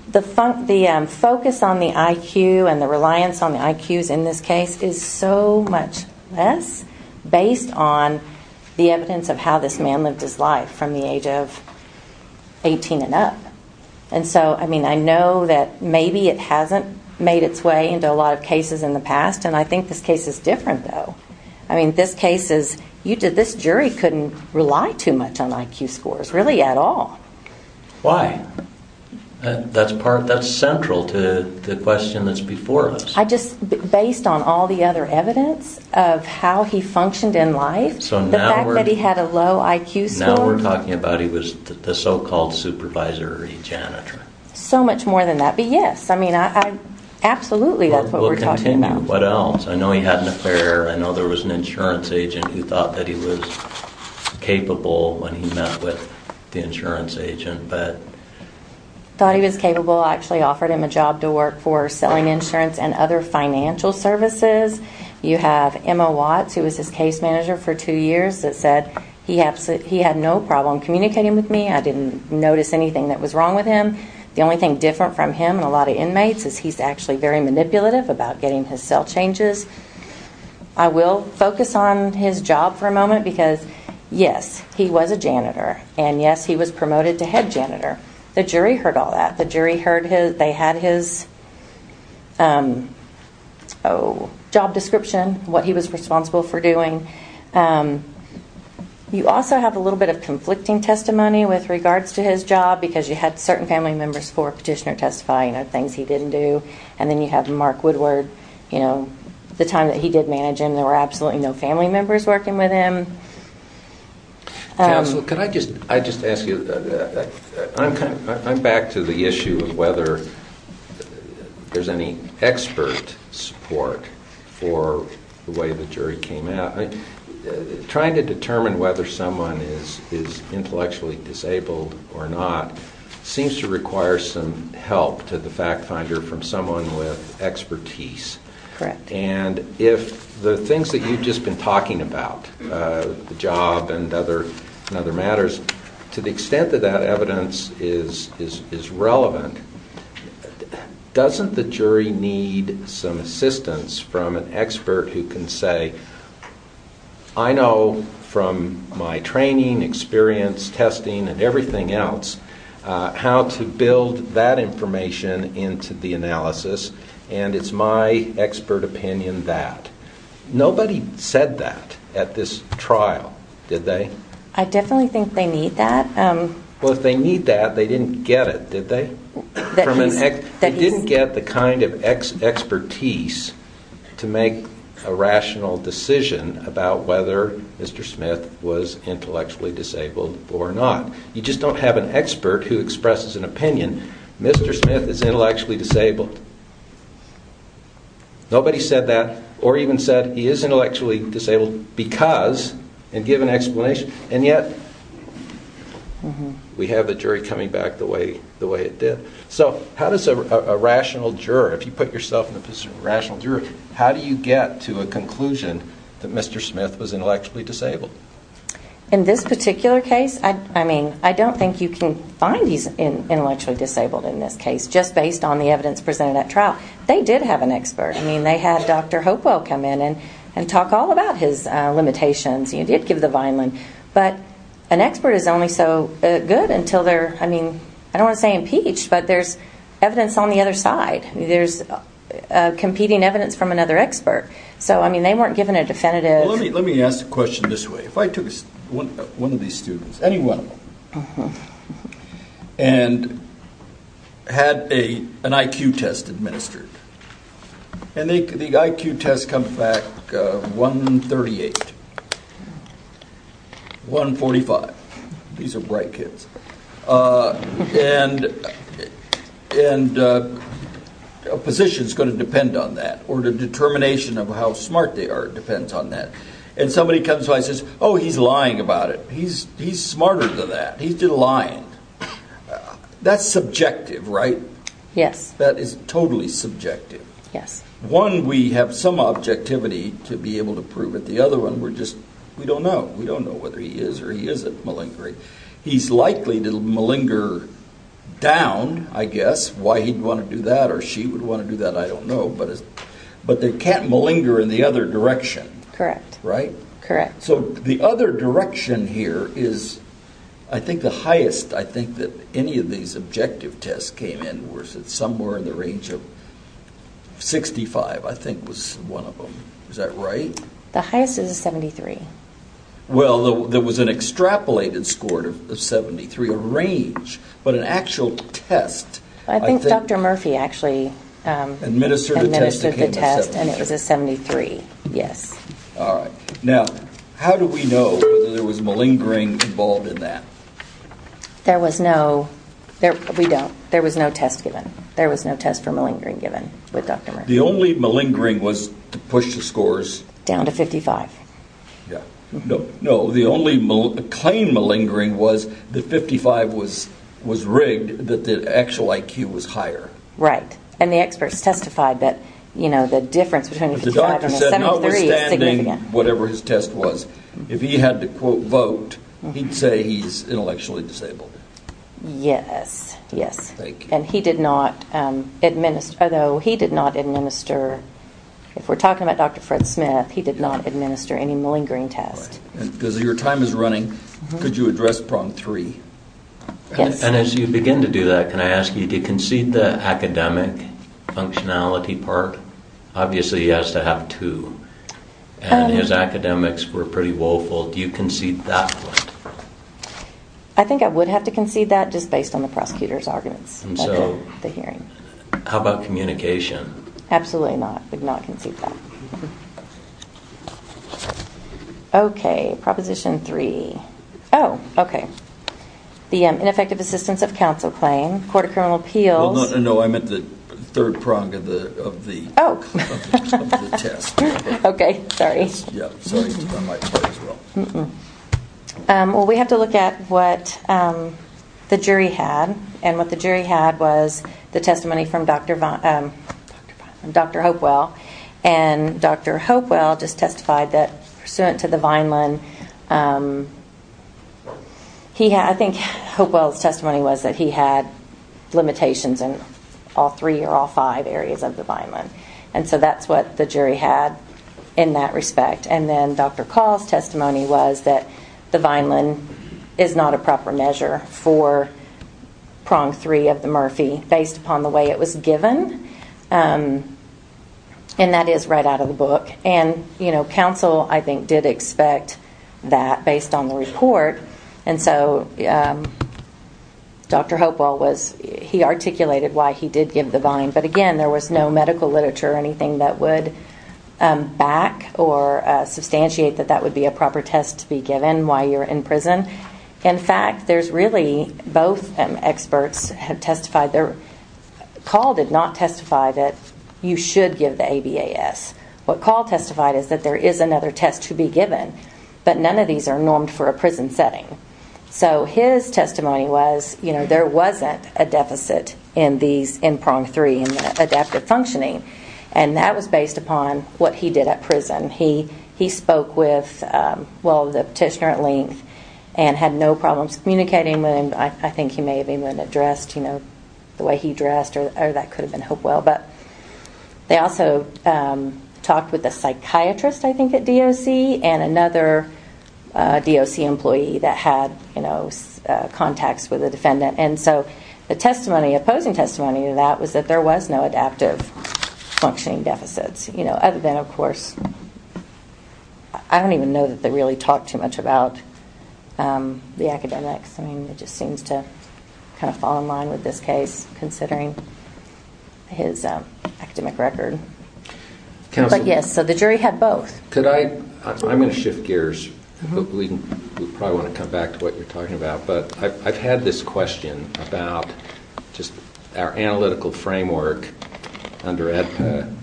the focus on the IQ and the reliance on the IQs in this case is so much less based on the evidence of how this man lived his life from the age of 18 and up. And so, I mean, I know that maybe it hasn't made its way into a lot of cases in the past, and I think this case is different, though. I mean, this case is... You did... This jury couldn't rely too much on IQ scores, really, at all. Why? That's part... That's central to the question that's before us. I just... Based on all the other evidence of how he functioned in life, the fact that he had a low IQ score... So much more than that. But yes, I mean, absolutely, that's what we're talking about. What else? I know he had an affair. I know there was an insurance agent who thought that he was capable when he met with the insurance agent, but... Thought he was capable. I actually offered him a job to work for selling insurance and other financial services. You have Emma Watts, who was his case manager for two years, that said he had no problem communicating with me. I didn't notice anything that was wrong with him. The only thing different from him and a lot of inmates is he's actually very manipulative about getting his cell changes. I will focus on his job for a moment because, yes, he was a janitor and, yes, he was promoted to head janitor. The jury heard all that. The jury heard they had his job description, what he was responsible for doing. You also have a little bit of conflicting testimony with regards to his job because you had certain family members for Petitioner Testify, you know, things he didn't do. And then you have Mark Woodward, you know, the time that he did manage him, there were absolutely no family members working with him. Counsel, could I just ask you... I'm back to the issue of whether there's any expert support for the way the jury came out. Trying to determine whether someone is intellectually disabled or not seems to require some help to the fact finder from someone with expertise. Correct. And if the things that you've just been talking about, the job and other matters, to the extent that that evidence is relevant, doesn't the jury need some assistance from an expert who can say, I know from my training, experience, testing and everything else, how to build that information into the analysis, and it's my expert opinion that. Nobody said that at this trial, did they? I definitely think they need that. Well, if they need that, they didn't get it, did they? They didn't get the kind of expertise to make a rational decision about whether Mr. Smith was intellectually disabled or not. You just don't have an expert who expresses an opinion, Mr. Smith is intellectually disabled. Nobody said that, or even said he is intellectually disabled because, and give an explanation, and yet we have the jury coming back the way it did. So how does a rational juror, if you put yourself in the position of a rational juror, how do you get to a conclusion that Mr. Smith was intellectually disabled? In this particular case, I mean, I don't think you can find he's intellectually disabled in this case, just based on the evidence presented at trial. They did have an expert. I mean, they had Dr. Hopewell come in and talk all about his limitations. He did give the Vineland, but an expert is only so good until they're, I mean, I don't want to say impeached, but there's evidence on the other side. There's competing evidence from another expert. So, I mean, they weren't given a definitive. Let me ask a question this way. If I took one of these students, any one of them, and had an IQ test administered, and the IQ test comes back 138, 145. These are bright kids. And a position is going to depend on that, or the determination of how smart they are depends on that. And somebody comes by and says, oh, he's lying about it. He's smarter than that. He's been lying. That's subjective, right? Yes. That is totally subjective. Yes. One, we have some objectivity to be able to prove it. The other one, we're just, we don't know. We don't know whether he is or he isn't malingering. He's likely to malinger down, I guess. Why he'd want to do that, or she would want to do that, I don't know. But they can't malinger in the other direction. Correct. Right? Correct. So the other direction here is, I think the highest, I think that any of these objective tests came in, was it somewhere in the range of 65, I think was one of them. Is that right? The highest is a 73. Well, there was an extrapolated score of 73, a range, but an actual test. I think Dr. Murphy actually administered the test, and it was a 73. Yes. All right. Now, how do we know whether there was malingering involved in that? There was no, we don't. There was no test given. There was no test for malingering given with Dr. Murphy. The only malingering was to push the scores. Down to 55. Yeah. No. The only claimed malingering was that 55 was rigged, that the actual IQ was higher. Right. And the experts testified that, you know, the difference between a 55 and a 73 is significant. Whatever his test was, if he had to, quote, vote, he'd say he's intellectually disabled. Yes. Yes. And he did not administer, although he did not administer, if we're talking about Dr. Fred Smith, he did not administer any malingering test. Because your time is running. Could you address problem three? Yes. And as you begin to do that, can I ask you to concede the academic functionality part? Obviously, he has to have two. And his academics were pretty woeful. Do you concede that point? I think I would have to concede that, just based on the prosecutor's arguments at the hearing. How about communication? Absolutely not. I would not concede that. OK. Proposition three. Oh, OK. The ineffective assistance of counsel claim, court of criminal appeals. No, I meant the third prong of the test. Oh, OK. Sorry. Yeah, sorry. It's on my part as well. Well, we have to look at what the jury had. And what the jury had was the testimony from Dr. Hopewell. And Dr. Hopewell just testified that pursuant to the Vineland, I think Hopewell's testimony was that he had limitations in all three or all five areas of the Vineland. And so that's what the jury had in that respect. And then Dr. Call's testimony was that the Vineland is not a proper measure for prong three of the Murphy, based upon the way it was given. And that is right out of the book. And counsel, I think, did expect that based on the report. And so Dr. Hopewell was, he articulated why he did give the Vine. But again, there was no medical literature or anything that would back or substantiate that that would be a proper test to be given while you're in prison. In fact, there's really both experts have testified. Call did not testify that you should give the ABAS. What Call testified is that there is another test to be given. But none of these are normed for a prison setting. So his testimony was there wasn't a deficit in prong three and adaptive functioning. And that was based upon what he did at prison. He spoke with the petitioner at length and had no problems communicating with him. I think he may have even addressed the way he dressed or that could have been Hopewell. But they also talked with the psychiatrist, I think, at DOC and another DOC employee that had contacts with the defendant. And so the testimony, opposing testimony to that was that there was no adaptive functioning deficits. Other than, of course, I don't even know that they really talked too much about the academics. It just seems to kind of fall in line with this case, considering his academic record. But yes, so the jury had both. I'm going to shift gears. We probably want to come back to what you're talking about. But I've had this question about just our analytical framework under AEDPA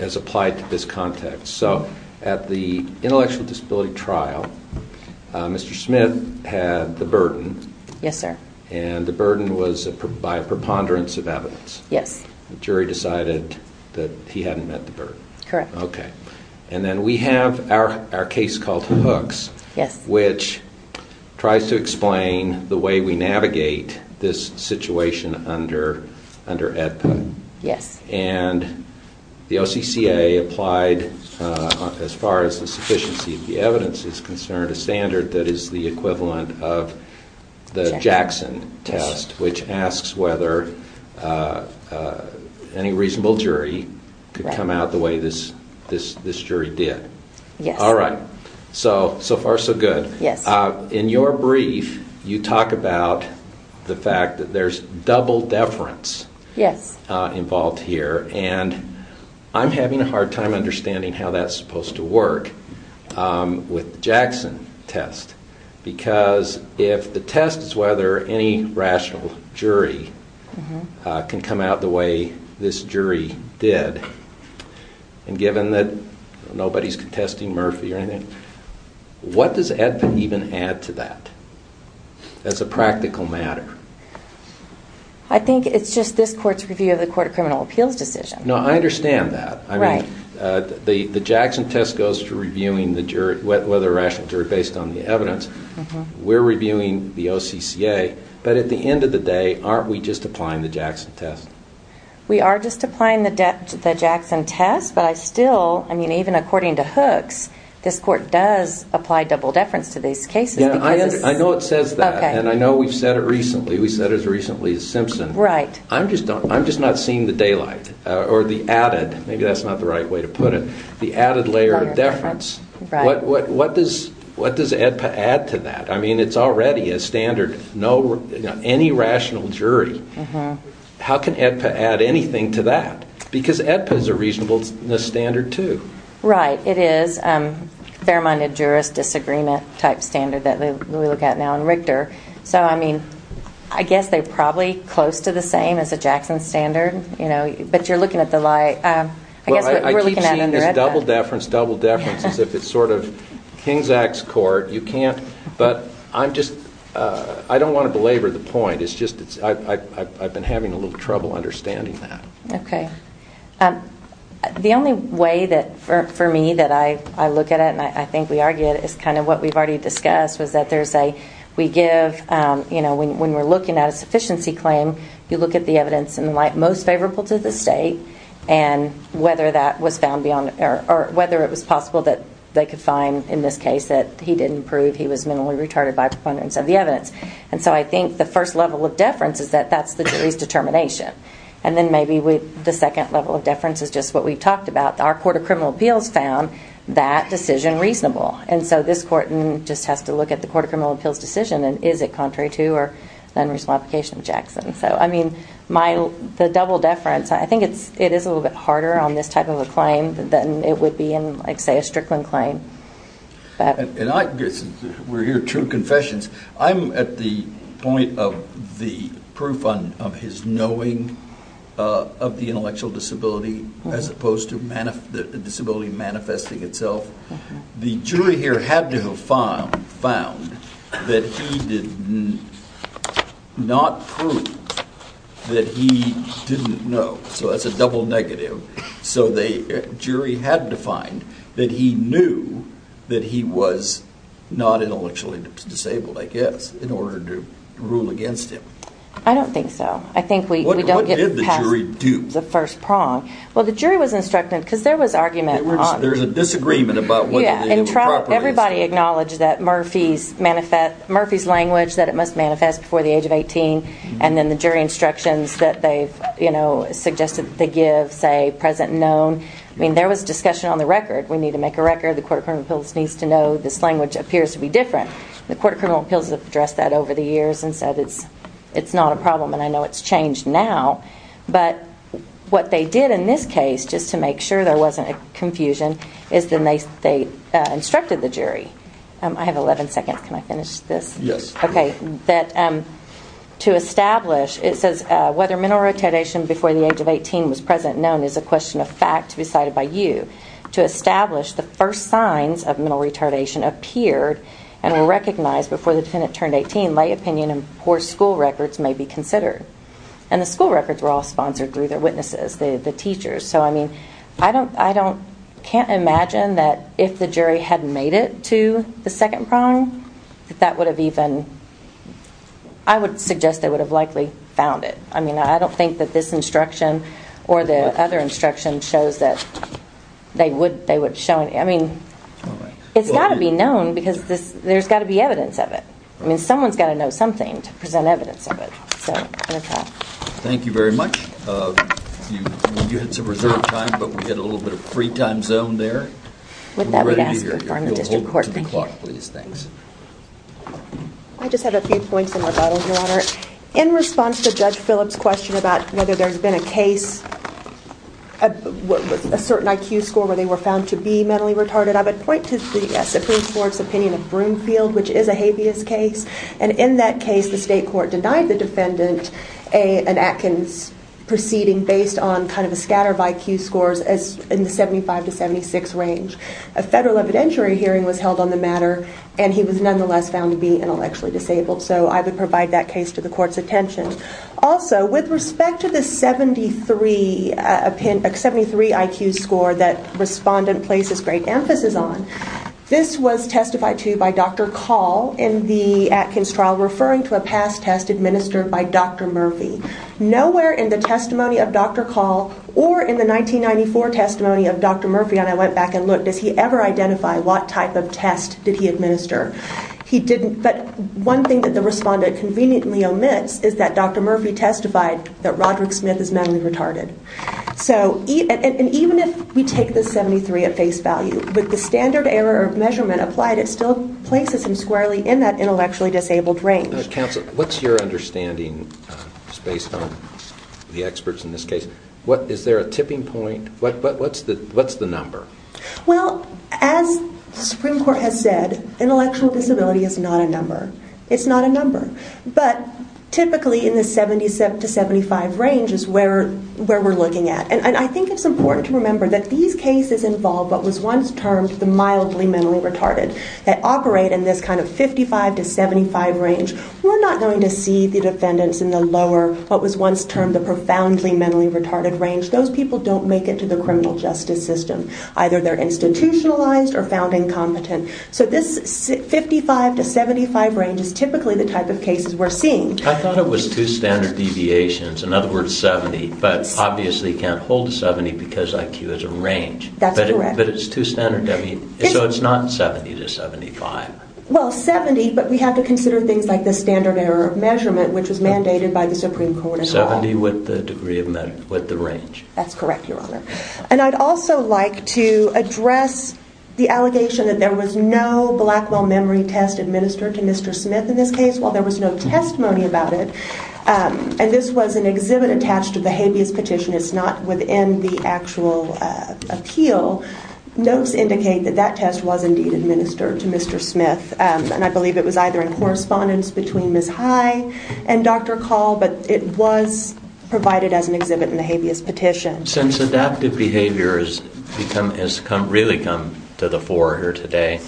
as applied to this context. So at the intellectual disability trial, Mr. Smith had the burden. Yes, sir. And the burden was by a preponderance of evidence. Yes. The jury decided that he hadn't met the burden. Correct. OK. And then we have our case called Hooks. Yes. Which tries to explain the way we navigate this situation under AEDPA. Yes. And the OCCA applied, as far as the sufficiency of the evidence is concerned, a standard that is the equivalent of the Jackson test, which asks whether any reasonable jury could come out the way this jury did. All right, so far, so good. Yes. In your brief, you talk about the fact that there's double deference involved here. And I'm having a hard time understanding how that's supposed to work. With the Jackson test, because if the test is whether any rational jury can come out the way this jury did, and given that nobody's contesting Murphy or anything, what does AEDPA even add to that as a practical matter? I think it's just this court's review of the Court of Criminal Appeals decision. No, I understand that. Right. The Jackson test goes to reviewing the jury, whether rational jury, based on the evidence. We're reviewing the OCCA. But at the end of the day, aren't we just applying the Jackson test? We are just applying the Jackson test. But I still, I mean, even according to Hooks, this court does apply double deference to these cases. Yeah, I know it says that. And I know we've said it recently. We said it as recently as Simpson. Right. I'm just not seeing the daylight or the added. Maybe that's not the right way to put it. The added layer of deference. What does AEDPA add to that? I mean, it's already a standard. Any rational jury. How can AEDPA add anything to that? Because AEDPA is a reasonableness standard too. Right. It is a fair-minded jurist disagreement type standard that we look at now in Richter. So I mean, I guess they're probably close to the same as a Jackson standard. But you're looking at the light. I guess what we're looking at under AEDPA. Well, I keep seeing this double deference, double deference as if it's sort of Kings Act's court. You can't. But I'm just, I don't want to belabor the point. It's just, I've been having a little trouble understanding that. OK. The only way that, for me, that I look at it, and I think we argue it, is kind of what we've already discussed was that there's a, we give, you know, when we're looking at a sufficiency claim, you look at the evidence in the light most favorable to the state, and whether that was found beyond, or whether it was possible that they could find, in this case, that he didn't prove he was minimally retarded by a preponderance of the evidence. And so I think the first level of deference is that that's the jury's determination. And then maybe the second level of deference is just what we've talked about. Our Court of Criminal Appeals found that decision reasonable. And so this court just has to look at the Court of Criminal Appeals decision, and is it contrary to or non-reasonable application of Jackson. So, I mean, the double deference, I think it is a little bit harder on this type of a claim than it would be in, like, say, a Strickland claim. And we're here, true confessions. I'm at the point of the proof of his knowing of the intellectual disability, as opposed to the disability manifesting itself. The jury here had to have found that he did not prove that he didn't know. So that's a double negative. So the jury had to find that he knew that he was not intellectually disabled, I guess, in order to rule against him. I don't think so. I think we don't get past the first prong. Well, the jury was instructed, because there was argument on it. There's a disagreement about whether they were properly instructed. Everybody acknowledged that Murphy's language, that it must manifest before the age of 18. And then the jury instructions that they've suggested they give, say, present and known. I mean, there was discussion on the record. We need to make a record. The Court of Criminal Appeals needs to know this language appears to be different. The Court of Criminal Appeals has addressed that over the years and said it's not a problem. And I know it's changed now. But what they did in this case, just to make sure there wasn't confusion, is then they instructed the jury. I have 11 seconds. Can I finish this? Yes. That to establish, it says whether mental retardation before the age of 18 was present and known is a question of fact to be cited by you. To establish the first signs of mental retardation appeared and were recognized before the defendant turned 18, lay opinion and poor school records may be considered. And the school records were all sponsored through their witnesses, the teachers. So I mean, I can't imagine that if the jury hadn't made it to the second prong, that that would have even, I would suggest they would have likely found it. I mean, I don't think that this instruction or the other instruction shows that they would show any. I mean, it's got to be known because there's got to be evidence of it. I mean, someone's got to know something to present evidence of it. So I'm going to stop. Thank you very much. You had some reserved time, but we had a little bit of free time zone there. With that, we'd ask for a quorum in the district court. I just had a few points in rebuttal, Your Honor. In response to Judge Phillips' question about whether there's been a case with a certain IQ score where they were found to be mentally retarded, I would point to the Supreme Court's opinion of Broomfield, which is a habeas case. And in that case, the state court denied the defendant an Atkins proceeding based on kind of a scatter of IQ scores in the 75 to 76 range. A federal evidentiary hearing was held on the matter, and he was nonetheless found to be intellectually disabled. So I would provide that case to the court's attention. Also, with respect to the 73 IQ score that respondent places great emphasis on, this was testified to by Dr. Call in the Atkins trial referring to a past test administered by Dr. Murphy. Nowhere in the testimony of Dr. Call or in the 1994 testimony of Dr. Murphy, and I went back and looked, does he ever identify what type of test did he administer? But one thing that the respondent conveniently omits is that Dr. Murphy testified that Roderick Smith is mentally retarded. And even if we take the 73 at face value, with the standard error measurement applied, it still places him squarely in that intellectually disabled range. Counsel, what's your understanding based on the experts in this case? Is there a tipping point? What's the number? Well, as the Supreme Court has said, intellectual disability is not a number. It's not a number. But typically in the 77 to 75 range is where we're looking at. And I think it's important to remember that these cases involve what was once termed the mildly mentally retarded that operate in this kind of 55 to 75 range. We're not going to see the defendants in the lower, what was once termed the profoundly mentally retarded range. Those people don't make it to the criminal justice system. Either they're institutionalized or found incompetent. So this 55 to 75 range is typically the type of cases we're seeing. I thought it was two standard deviations. In other words, 70. But obviously can't hold a 70 because IQ is a range. That's correct. But it's two standard. So it's not 70 to 75. Well, 70. But we have to consider things like the standard error of measurement, which was mandated by the Supreme Court as well. 70 with the degree of measure, with the range. That's correct, Your Honor. And I'd also like to address the allegation that there was no Blackwell memory test administered to Mr. Smith in this case. Well, there was no testimony about it. And this was an exhibit attached to the habeas petition. It's not within the actual appeal. Notes indicate that that test was indeed administered to Mr. Smith. And I believe it was either in correspondence between Ms. High and Dr. Call. But it was provided as an exhibit in the habeas petition. Since adaptive behavior has really come to the fore here today.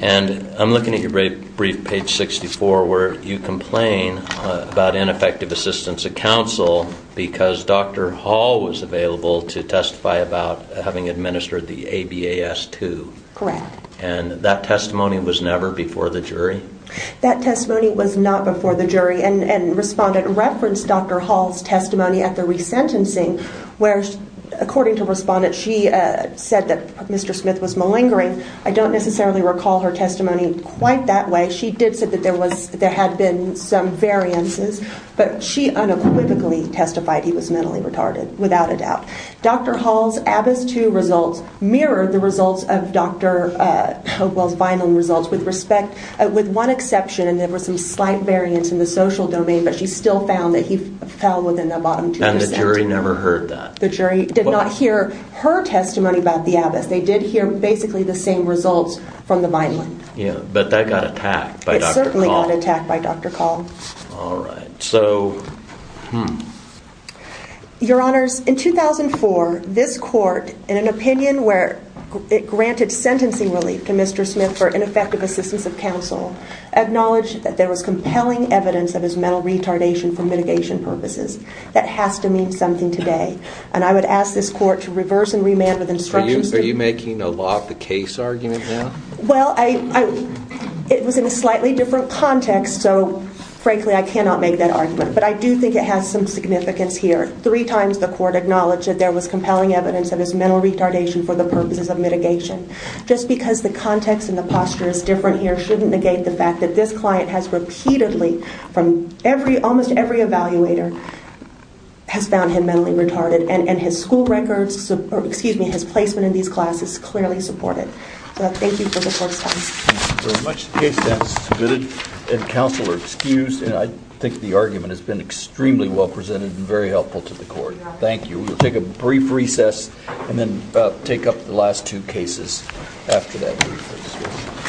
And I'm looking at your brief, page 64, where you complain about ineffective assistance of counsel because Dr. Hall was available to testify about having administered the habeas too. Correct. And that testimony was never before the jury? That testimony was not before the jury. And respondent referenced Dr. Hall's testimony at the resentencing, where according to respondent, she said that Mr. Smith was malingering. I don't necessarily recall her testimony quite that way. She did say that there had been some variances. But she unequivocally testified he was mentally retarded, without a doubt. Dr. Hall's habeas too results mirrored the results of Dr. Hopewell's Vineland results with respect, with one exception. And there were some slight variance in the social domain. But she still found that he fell within the bottom 2%. And the jury never heard that? The jury did not hear her testimony about the habeas. They did hear basically the same results from the Vineland. Yeah. But that got attacked by Dr. Call. It certainly got attacked by Dr. Call. All right. So. Hmm. Your Honors, in 2004, this court, in an opinion where it granted sentencing relief to Mr. Smith for ineffective assistance of counsel, acknowledged that there was compelling evidence of his mental retardation for mitigation purposes. That has to mean something today. And I would ask this court to reverse and remand with instructions to- Are you making a law of the case argument now? Well, it was in a slightly different context. So frankly, I cannot make that argument. But I do think it has some significance here. Three times the court acknowledged that there was compelling evidence of his mental retardation for the purposes of mitigation. Just because the context and the posture is different here shouldn't negate the fact that this client has repeatedly, from every, almost every evaluator, has found him mentally retarded. And his school records, or excuse me, his placement in these classes, clearly support it. So thank you for the court's time. Thank you very much. The case is submitted and counsel are excused. I think the argument has been extremely well presented and very helpful to the court. Thank you. We'll take a brief recess and then take up the last two cases after that brief recess.